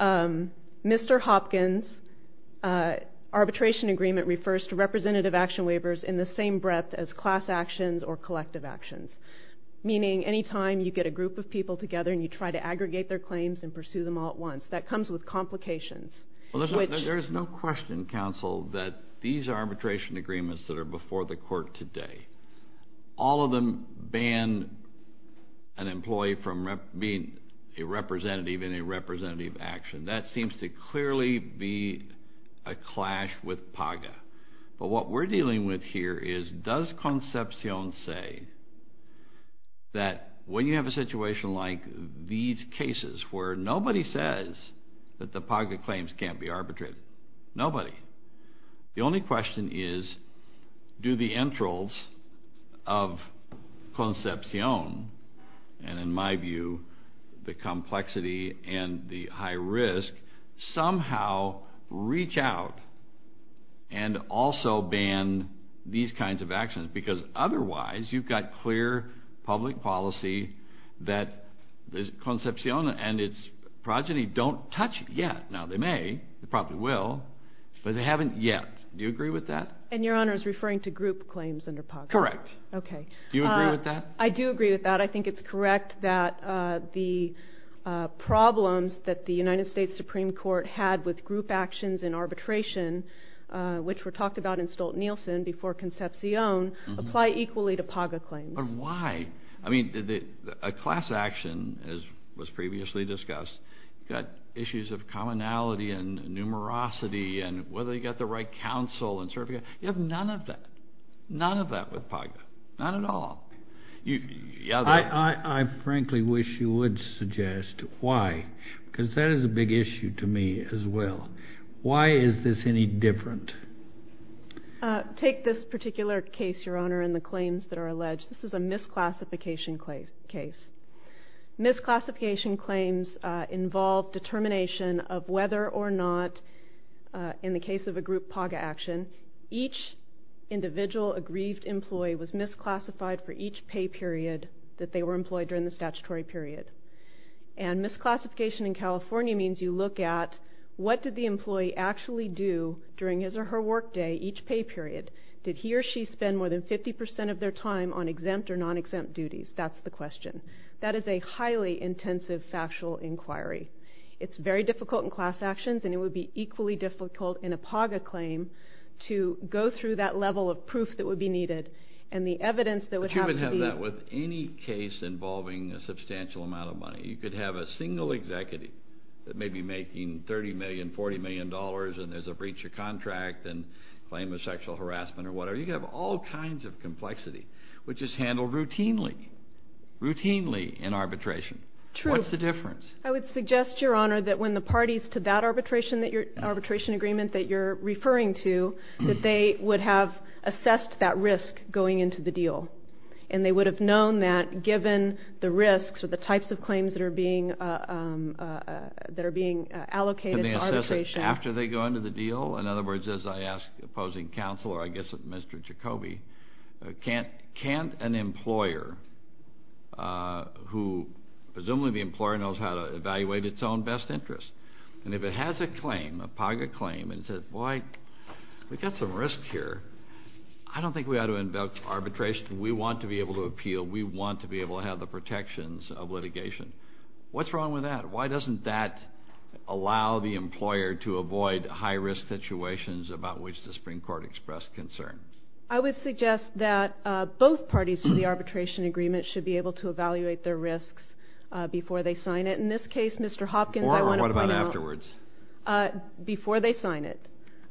Mr. Hopkins' arbitration agreement refers to representative action waivers in the same breadth as class actions or collective actions, meaning any time you get a group of people together and you try to aggregate their claims and pursue them all at once, that comes with complications. There is no question, counsel, that these arbitration agreements that are before the court today, all of them ban an employee from being a representative in a representative action. That seems to clearly be a clash with PAGA. But what we're dealing with here is, does Concepcion say that when you have a situation like these cases where nobody says that the PAGA claims can't be arbitrated, nobody, the only question is, do the entrals of Concepcion, and in my view, the complexity and the high risk, somehow reach out and also ban these kinds of actions? Because otherwise, you've got clear public policy that Concepcion and its progeny don't touch yet. Now they may, they probably will, but they haven't yet. Do you agree with that? And Your Honor is referring to group claims under PAGA. Correct. Okay. Do you agree with that? I do agree with that. I think it's correct that the problems that the United States Supreme Court had with group actions in arbitration, which were talked about in Stolt-Nielsen before Concepcion, apply equally to PAGA claims. But why? I mean, a class action, as was previously discussed, you've got issues of commonality and numerosity and whether you've got the right counsel and certificate. You have none of that. None of that with PAGA. Not at all. I frankly wish you would suggest why, because that is a big issue to me as well. Why is this any different? Take this particular case, Your Honor, and the claims that are alleged. This is a misclassification case. Misclassification claims involve determination of whether or not, in the case of a group PAGA action, each individual aggrieved employee was misclassified for each pay period that they were employed during the statutory period. And misclassification in California means you look at what did the employee actually do during his or her work day each pay period. Did he or she spend more than 50% of their time on exempt or non-exempt duties? That's the question. That is a highly intensive factual inquiry. It's very difficult in class actions, and it would be equally difficult in a PAGA claim to go through that level of proof that would be needed and the evidence that would have to be But you would have that with any case involving a substantial amount of money. You could have a single executive that may be making $30 million, $40 million, and there's a breach of contract and claim of sexual harassment or whatever. You could have all kinds of complexity, which is handled routinely, routinely in arbitration. True. What's the difference? I would suggest, Your Honor, that when the parties to that arbitration agreement that you're referring to, that they would have assessed that risk going into the deal, and they would have known that given the risks or the types of claims that are being allocated to arbitration. After they go into the deal, in other words, as I ask opposing counsel, or I guess Mr. Jacoby, can't an employer who presumably the employer knows how to evaluate its own best interest, and if it has a claim, a PAGA claim, and says, boy, we've got some risk here, I don't think we ought to invoke arbitration. We want to be able to appeal. We want to be able to have the protections of litigation. What's wrong with that? Why doesn't that allow the employer to avoid high-risk situations about which the Supreme Court expressed concern? I would suggest that both parties to the arbitration agreement should be able to evaluate their risks before they sign it. In this case, Mr. Hopkins, I want to point out. Or what about afterwards? Before they sign it.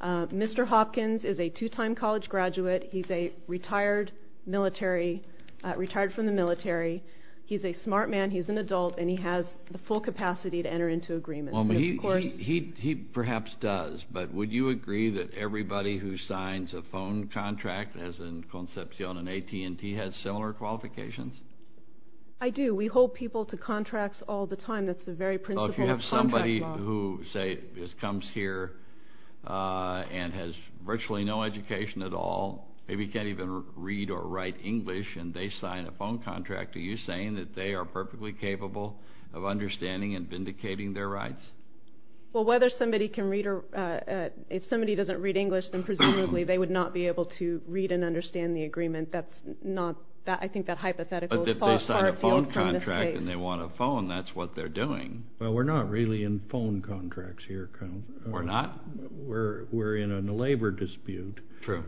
Mr. Hopkins is a two-time college graduate. He's a retired military, retired from the military. He's a smart man, he's an adult, and he has the full capacity to enter into agreements. He perhaps does. But would you agree that everybody who signs a phone contract, as in Concepcion and AT&T, has similar qualifications? I do. We hold people to contracts all the time. That's the very principle of contract law. If you have somebody who, say, comes here and has virtually no education at all, maybe can't even read or write English, and they sign a phone contract, are you saying that they are perfectly capable of understanding and vindicating their rights? Well, whether somebody can read or ‑‑ if somebody doesn't read English, then presumably they would not be able to read and understand the agreement. That's not ‑‑ I think that hypothetical is far afield from this case. But if they sign a phone contract and they want a phone, that's what they're doing. Well, we're not really in phone contracts here. We're not? We're in a labor dispute. True.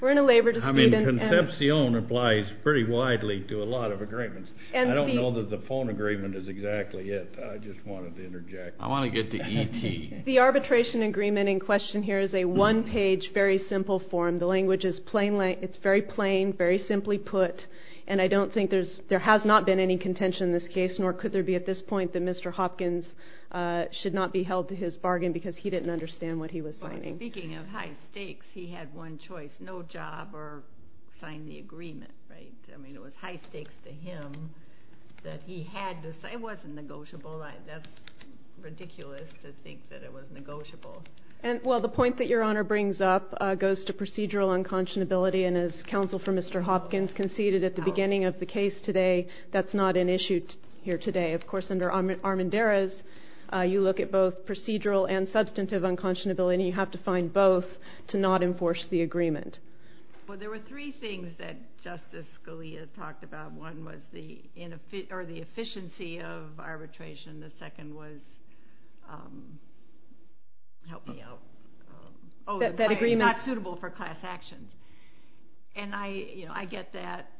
We're in a labor dispute. I mean, Concepcion applies pretty widely to a lot of agreements. I don't know that the phone agreement is exactly it. I just wanted to interject. I want to get to AT&T. The arbitration agreement in question here is a one‑page, very simple form. The language is plain language. It's very plain, very simply put. And I don't think there has not been any contention in this case, nor could there be at this point that Mr. Hopkins should not be held to his bargain because he didn't understand what he was signing. Speaking of high stakes, he had one choice, no job or sign the agreement, right? I mean, it was high stakes to him that he had to sign. It wasn't negotiable. That's ridiculous to think that it was negotiable. Well, the point that Your Honor brings up goes to procedural unconscionability. And as counsel for Mr. Hopkins conceded at the beginning of the case today, that's not an issue here today. Of course, under Armendariz, you look at both procedural and substantive unconscionability. And you have to find both to not enforce the agreement. Well, there were three things that Justice Scalia talked about. One was the efficiency of arbitration. The second was that it's not suitable for class actions. And I get that.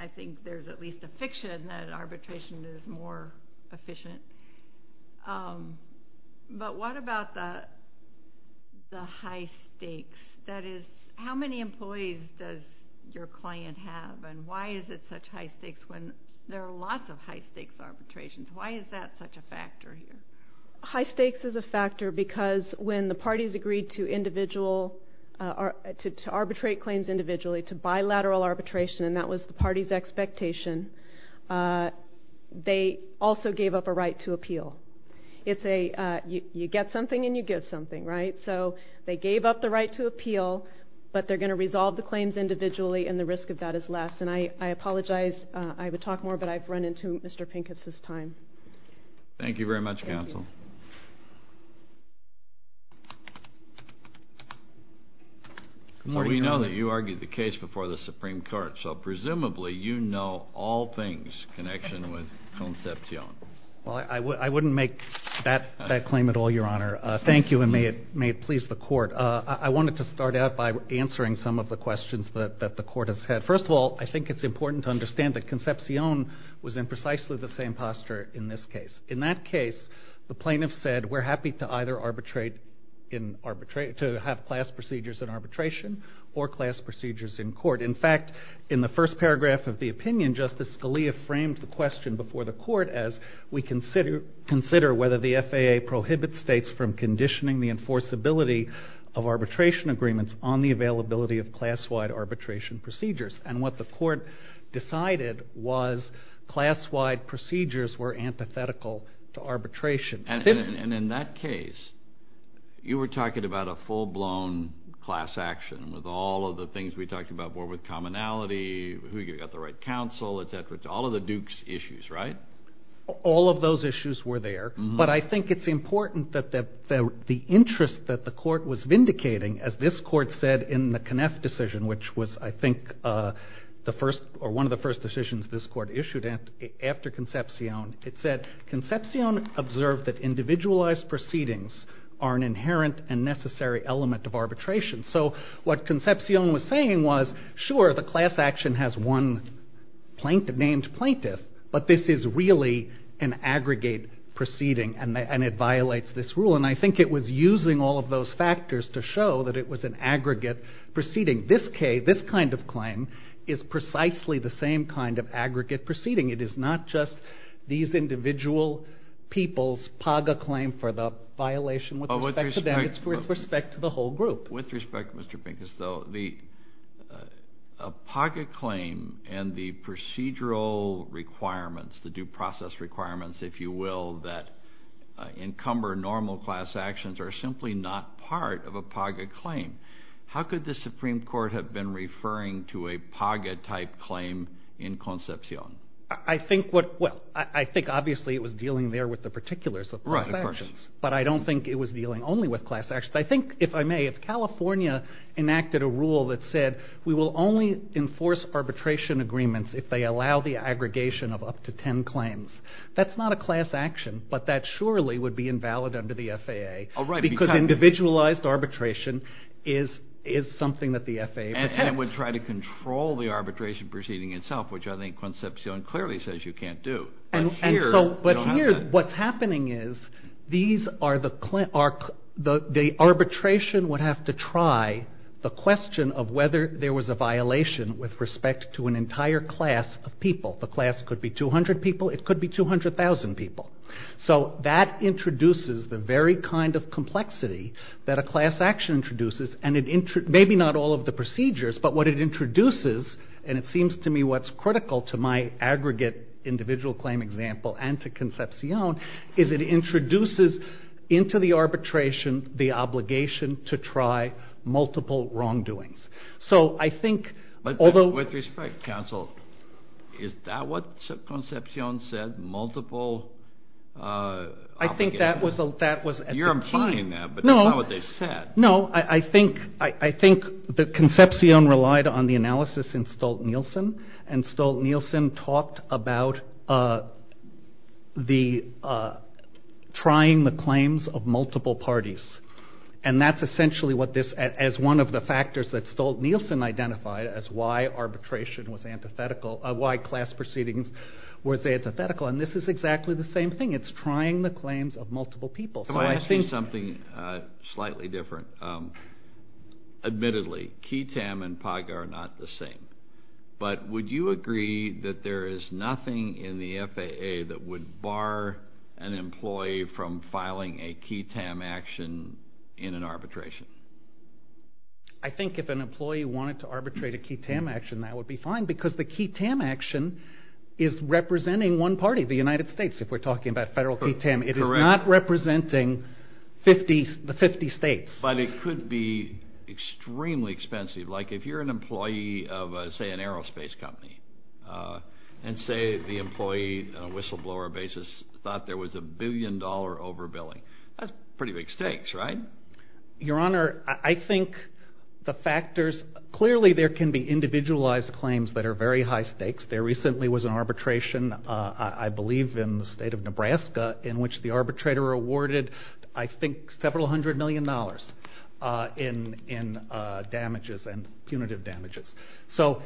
I think there's at least a fiction that arbitration is more efficient. But what about the high stakes? That is, how many employees does your client have? And why is it such high stakes when there are lots of high stakes arbitrations? Why is that such a factor here? High stakes is a factor because when the parties agreed to arbitrate claims individually, to bilateral arbitration, and that was the party's expectation, they also gave up a right to appeal. It's a you get something and you give something, right? So they gave up the right to appeal, but they're going to resolve the claims individually, and the risk of that is less. And I apologize. I would talk more, but I've run into Mr. Pincus's time. Thank you very much, counsel. Well, we know that you argued the case before the Supreme Court. So presumably you know all things connection with Concepcion. Well, I wouldn't make that claim at all, Your Honor. Thank you, and may it please the Court. I wanted to start out by answering some of the questions that the Court has had. First of all, I think it's important to understand that Concepcion was in precisely the same posture in this case. In that case, the plaintiff said, we're happy to have class procedures in arbitration or class procedures in court. In fact, in the first paragraph of the opinion, Justice Scalia framed the question before the Court as we consider whether the FAA prohibits states from conditioning the enforceability of arbitration agreements on the availability of class-wide arbitration procedures. And what the Court decided was class-wide procedures were antithetical to arbitration. And in that case, you were talking about a full-blown class action with all of the things we talked about were with commonality, who got the right counsel, etc. All of the Dukes' issues, right? All of those issues were there. But I think it's important that the interest that the Court was vindicating, as this Court said in the Conniff decision, which was, I think, one of the first decisions this Court issued after Concepcion, it said Concepcion observed that individualized proceedings are an inherent and necessary element of arbitration. So what Concepcion was saying was, sure, the class action has one named plaintiff, but this is really an aggregate proceeding, and it violates this rule. And I think it was using all of those factors to show that it was an aggregate proceeding. This kind of claim is precisely the same kind of aggregate proceeding. It is not just these individual people's PAGA claim for the violation with respect to them. With respect, Mr. Pincus, though, the PAGA claim and the procedural requirements, the due process requirements, if you will, that encumber normal class actions are simply not part of a PAGA claim. How could the Supreme Court have been referring to a PAGA-type claim in Concepcion? I think what – well, I think obviously it was dealing there with the particulars of class actions. Right, of course. But I don't think it was dealing only with class actions. I think, if I may, if California enacted a rule that said we will only enforce arbitration agreements if they allow the aggregation of up to ten claims, that's not a class action, but that surely would be invalid under the FAA because individualized arbitration is something that the FAA protects. And it would try to control the arbitration proceeding itself, which I think Concepcion clearly says you can't do. But here what's happening is these are the – the arbitration would have to try the question of whether there was a violation with respect to an entire class of people. The class could be 200 people. It could be 200,000 people. So that introduces the very kind of complexity that a class action introduces, and it – maybe not all of the procedures, but what it introduces, and it seems to me what's critical to my aggregate individual claim example and to Concepcion, is it introduces into the arbitration the obligation to try multiple wrongdoings. So I think – But with respect, counsel, is that what Concepcion said, multiple – I think that was at the key. You're implying that, but that's not what they said. No, I think – I think that Concepcion relied on the analysis in Stolt-Nielsen, and Stolt-Nielsen talked about the – trying the claims of multiple parties. And that's essentially what this – as one of the factors that Stolt-Nielsen identified as why arbitration was antithetical – why class proceedings was antithetical. And this is exactly the same thing. It's trying the claims of multiple people. So I think – Can I ask you something slightly different? Admittedly, QITAM and PAGA are not the same, but would you agree that there is nothing in the FAA that would bar an employee from filing a QITAM action in an arbitration? I think if an employee wanted to arbitrate a QITAM action, that would be fine, because the QITAM action is representing one party, the United States, if we're talking about federal QITAM. Correct. It is not representing the 50 states. But it could be extremely expensive. Like, if you're an employee of, say, an aerospace company, and say the employee on a whistleblower basis thought there was a billion-dollar overbilling, that's pretty big stakes, right? Your Honor, I think the factors – clearly there can be individualized claims that are very high stakes. There recently was an arbitration, I believe in the state of Nebraska, in which the arbitrator awarded, I think, several hundred million dollars in damages and punitive damages. So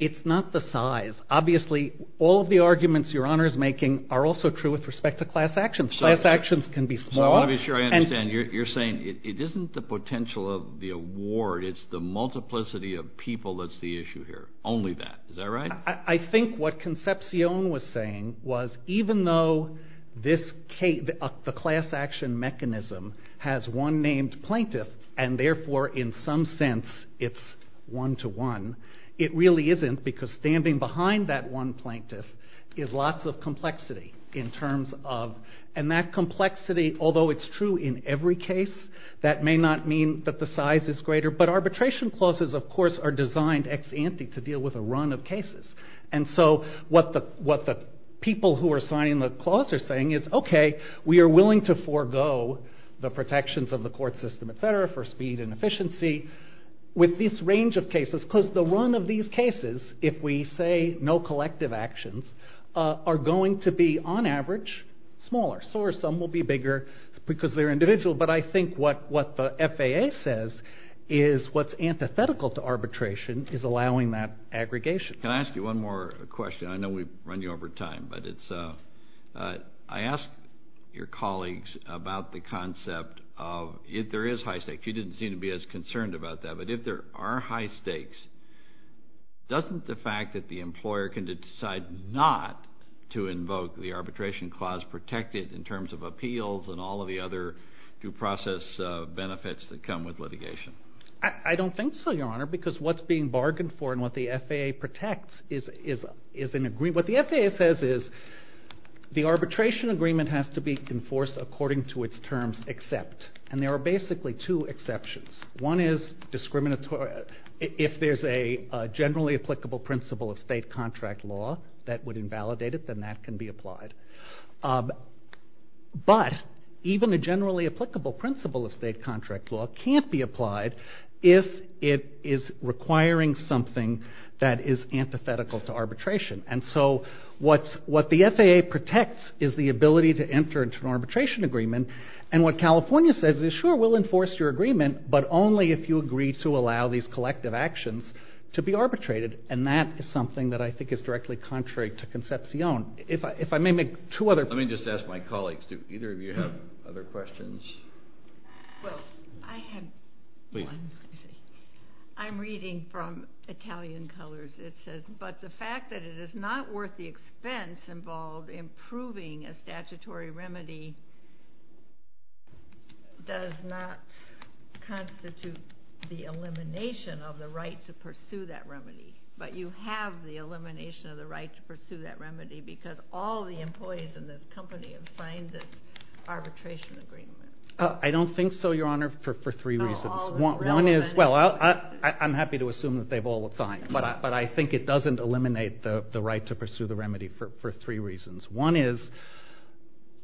it's not the size. Obviously, all of the arguments Your Honor is making are also true with respect to class actions. Class actions can be small. I want to be sure I understand. You're saying it isn't the potential of the award, it's the multiplicity of people that's the issue here, only that. Is that right? I think what Concepcion was saying was even though the class action mechanism has one named plaintiff and therefore in some sense it's one-to-one, it really isn't because standing behind that one plaintiff is lots of complexity in terms of – and that complexity, although it's true in every case, that may not mean that the size is greater. But arbitration clauses, of course, are designed ex ante to deal with a run of cases. And so what the people who are signing the clause are saying is, okay, we are willing to forego the protections of the court system, et cetera, for speed and efficiency with this range of cases. Because the run of these cases, if we say no collective actions, are going to be on average smaller. Some will be bigger because they're individual. But I think what the FAA says is what's antithetical to arbitration is allowing that aggregation. Can I ask you one more question? I know we've run you over time, but it's – I asked your colleagues about the concept of if there is high stakes. You didn't seem to be as concerned about that. But if there are high stakes, doesn't the fact that the employer can decide not to invoke the arbitration clause protected in terms of appeals and all of the other due process benefits that come with litigation? I don't think so, Your Honor, because what's being bargained for and what the FAA protects is an agreement. What the FAA says is the arbitration agreement has to be enforced according to its terms except. And there are basically two exceptions. One is if there's a generally applicable principle of state contract law that would invalidate it, then that can be applied. But even a generally applicable principle of state contract law can't be applied if it is requiring something that is antithetical to arbitration. And so what the FAA protects is the ability to enter into an arbitration agreement. And what California says is sure, we'll enforce your agreement, but only if you agree to allow these collective actions to be arbitrated. And that is something that I think is directly contrary to concepcion. If I may make two other points. Let me just ask my colleagues, do either of you have other questions? Well, I have one. Please. I'm reading from Italian Colors. It says, but the fact that it is not worth the expense involved in proving a statutory remedy does not constitute the elimination of the right to pursue that remedy. But you have the elimination of the right to pursue that remedy because all the employees in this company have signed this arbitration agreement. I don't think so, Your Honor, for three reasons. Well, I'm happy to assume that they've all signed. But I think it doesn't eliminate the right to pursue the remedy for three reasons. One is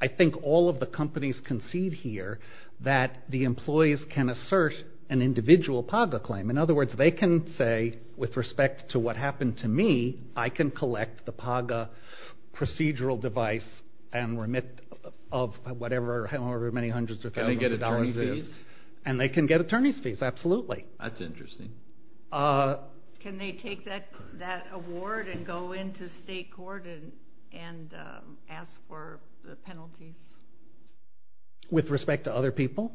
I think all of the companies concede here that the employees can assert an individual PAGA claim. In other words, they can say, with respect to what happened to me, I can collect the PAGA procedural device of however many hundreds or thousands of dollars it is. Can they get attorney's fees? And they can get attorney's fees, absolutely. That's interesting. Can they take that award and go into state court and ask for the penalties? With respect to other people?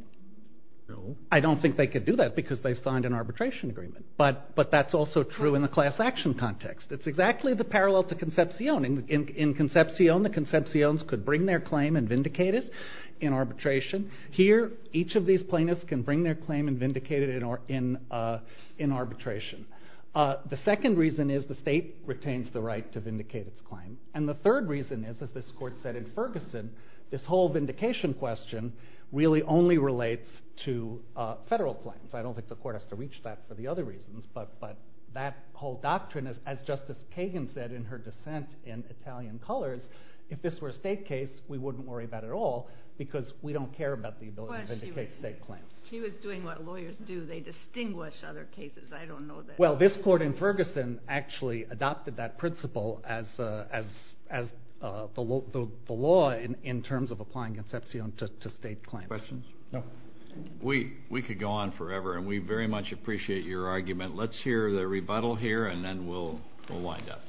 No. I don't think they could do that because they've signed an arbitration agreement. But that's also true in the class action context. It's exactly the parallel to Concepcion. In Concepcion, the Concepcion's could bring their claim and vindicate it in arbitration. Here, each of these plaintiffs can bring their claim and vindicate it in arbitration. The second reason is the state retains the right to vindicate its claim. And the third reason is, as this Court said in Ferguson, this whole vindication question really only relates to federal claims. I don't think the Court has to reach that for the other reasons. But that whole doctrine, as Justice Kagan said in her dissent in Italian Colors, if this were a state case, we wouldn't worry about it at all because we don't care about the ability to vindicate state claims. She was doing what lawyers do. They distinguish other cases. I don't know that. Well, this Court in Ferguson actually adopted that principle as the law in terms of applying Concepcion to state claims. Questions? No. We could go on forever, and we very much appreciate your argument. Let's hear the rebuttal here, and then we'll wind up.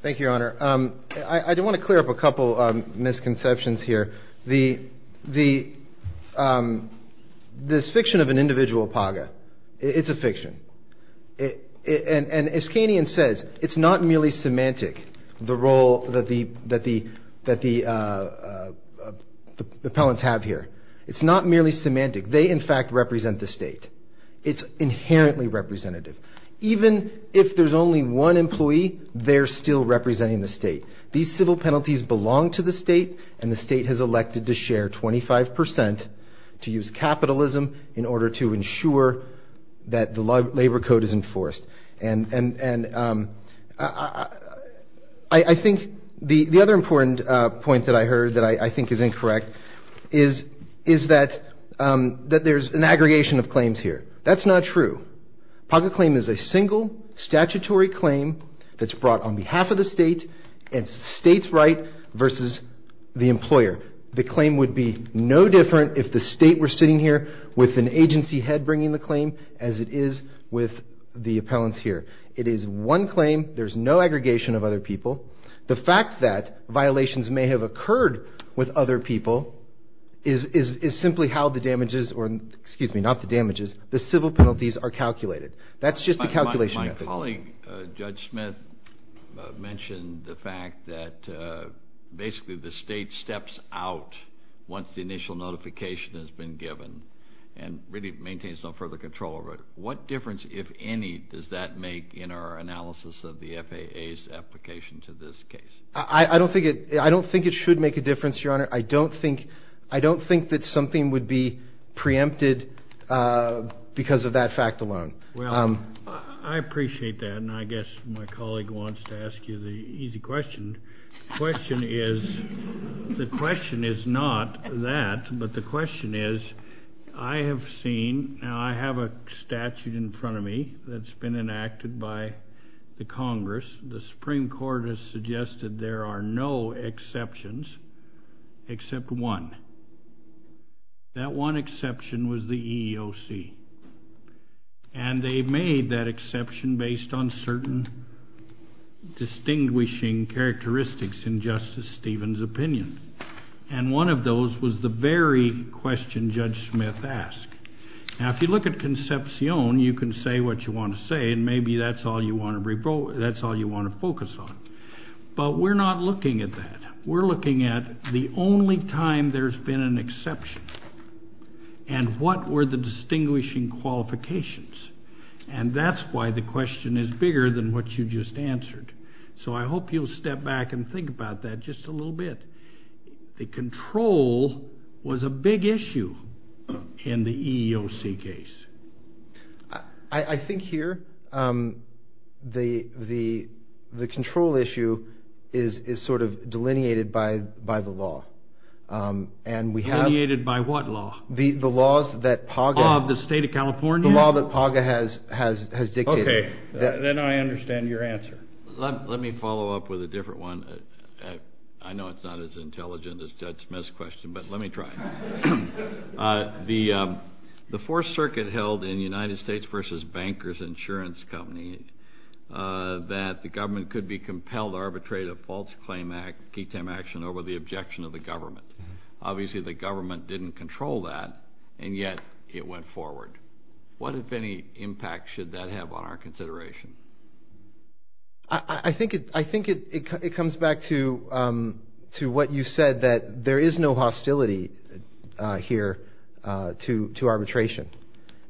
Thank you, Your Honor. I do want to clear up a couple misconceptions here. This fiction of an individual paga, it's a fiction. And as Kanian says, it's not merely semantic, the role that the appellants have here. It's not merely semantic. They, in fact, represent the state. It's inherently representative. Even if there's only one employee, they're still representing the state. These civil penalties belong to the state, and the state has elected to share 25 percent to use capitalism in order to ensure that the labor code is enforced. And I think the other important point that I heard that I think is incorrect is that there's an aggregation of claims here. That's not true. Paga claim is a single statutory claim that's brought on behalf of the state and states' right versus the employer. The claim would be no different if the state were sitting here with an agency head bringing the claim as it is with the appellants here. It is one claim. There's no aggregation of other people. The fact that violations may have occurred with other people is simply how the damages or excuse me, not the damages, the civil penalties are calculated. That's just the calculation method. My colleague, Judge Smith, mentioned the fact that basically the state steps out once the initial notification has been given and really maintains no further control over it. What difference, if any, does that make in our analysis of the FAA's application to this case? I don't think it should make a difference, Your Honor. I don't think that something would be preempted because of that fact alone. Well, I appreciate that, and I guess my colleague wants to ask you the easy question. The question is not that, but the question is I have seen, now I have a statute in front of me that's been enacted by the Congress. The Supreme Court has suggested there are no exceptions except one. That one exception was the EEOC, and they made that exception based on certain distinguishing characteristics in Justice Stevens' opinion, and one of those was the very question Judge Smith asked. Now, if you look at Concepcion, you can say what you want to say, and maybe that's all you want to focus on. But we're not looking at that. We're looking at the only time there's been an exception, and what were the distinguishing qualifications, and that's why the question is bigger than what you just answered. So I hope you'll step back and think about that just a little bit. The control was a big issue in the EEOC case. I think here the control issue is sort of delineated by the law. Delineated by what law? The laws that PAGA has dictated. Okay, then I understand your answer. Let me follow up with a different one. I know it's not as intelligent as Judge Smith's question, but let me try. The Fourth Circuit held in United States v. Bankers Insurance Company that the government could be compelled to arbitrate a false claim action over the objection of the government. Obviously the government didn't control that, and yet it went forward. What, if any, impact should that have on our consideration? I think it comes back to what you said, that there is no hostility here to arbitration.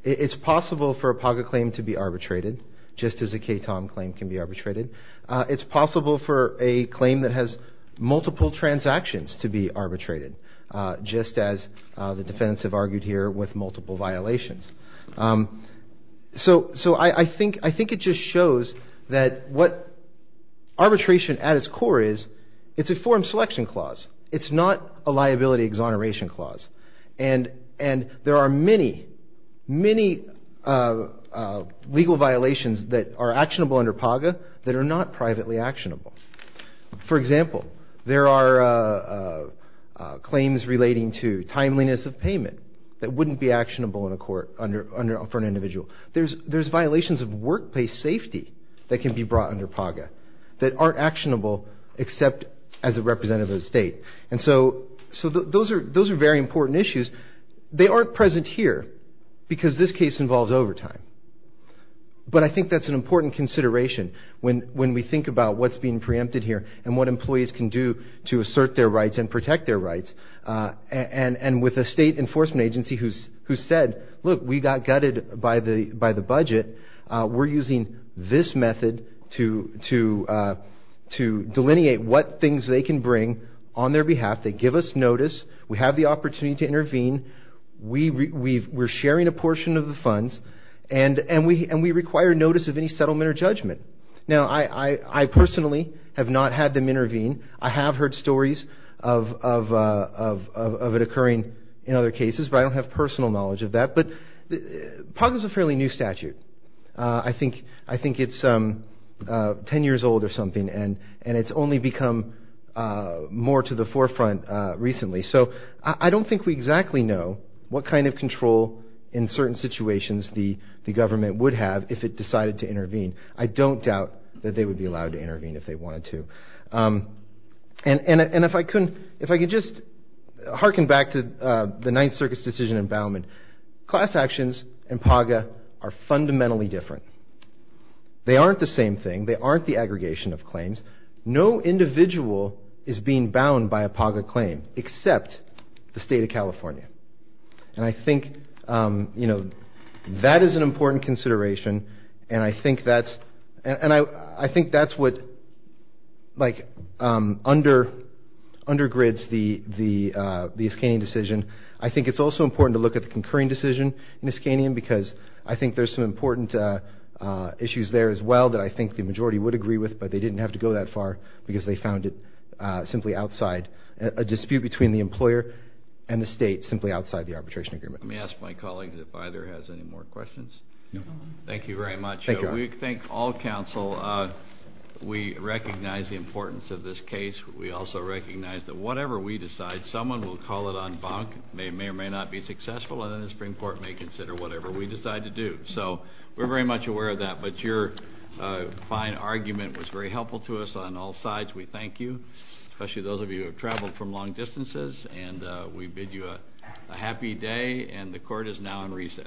It's possible for a PAGA claim to be arbitrated, just as a KTOM claim can be arbitrated. It's possible for a claim that has multiple transactions to be arbitrated, just as the defendants have argued here with multiple violations. So I think it just shows that what arbitration at its core is, it's a form selection clause. It's not a liability exoneration clause. And there are many, many legal violations that are actionable under PAGA that are not privately actionable. For example, there are claims relating to timeliness of payment that wouldn't be actionable in a court for an individual. There's violations of workplace safety that can be brought under PAGA that aren't actionable except as a representative of the state. And so those are very important issues. They aren't present here because this case involves overtime. But I think that's an important consideration when we think about what's being preempted here And with a state enforcement agency who said, look, we got gutted by the budget. We're using this method to delineate what things they can bring on their behalf. They give us notice. We have the opportunity to intervene. We're sharing a portion of the funds. And we require notice of any settlement or judgment. Now, I personally have not had them intervene. I have heard stories of it occurring in other cases. But I don't have personal knowledge of that. But PAGA is a fairly new statute. I think it's 10 years old or something. And it's only become more to the forefront recently. So I don't think we exactly know what kind of control in certain situations the government would have if it decided to intervene. I don't doubt that they would be allowed to intervene if they wanted to. And if I could just hearken back to the Ninth Circuit's decision in Bauman, class actions and PAGA are fundamentally different. They aren't the same thing. They aren't the aggregation of claims. No individual is being bound by a PAGA claim except the state of California. And I think that is an important consideration. And I think that's what, like, undergrids the Iskanian decision. I think it's also important to look at the concurring decision in Iskanian because I think there's some important issues there as well that I think the majority would agree with, but they didn't have to go that far because they found it simply outside a dispute between the employer and the state simply outside the arbitration agreement. Let me ask my colleagues if either has any more questions. Thank you very much. We thank all counsel. We recognize the importance of this case. We also recognize that whatever we decide, someone will call it en banc, may or may not be successful, and then the Supreme Court may consider whatever we decide to do. So we're very much aware of that. But your fine argument was very helpful to us on all sides. We thank you, especially those of you who have traveled from long distances. And we bid you a happy day. And the court is now in recess.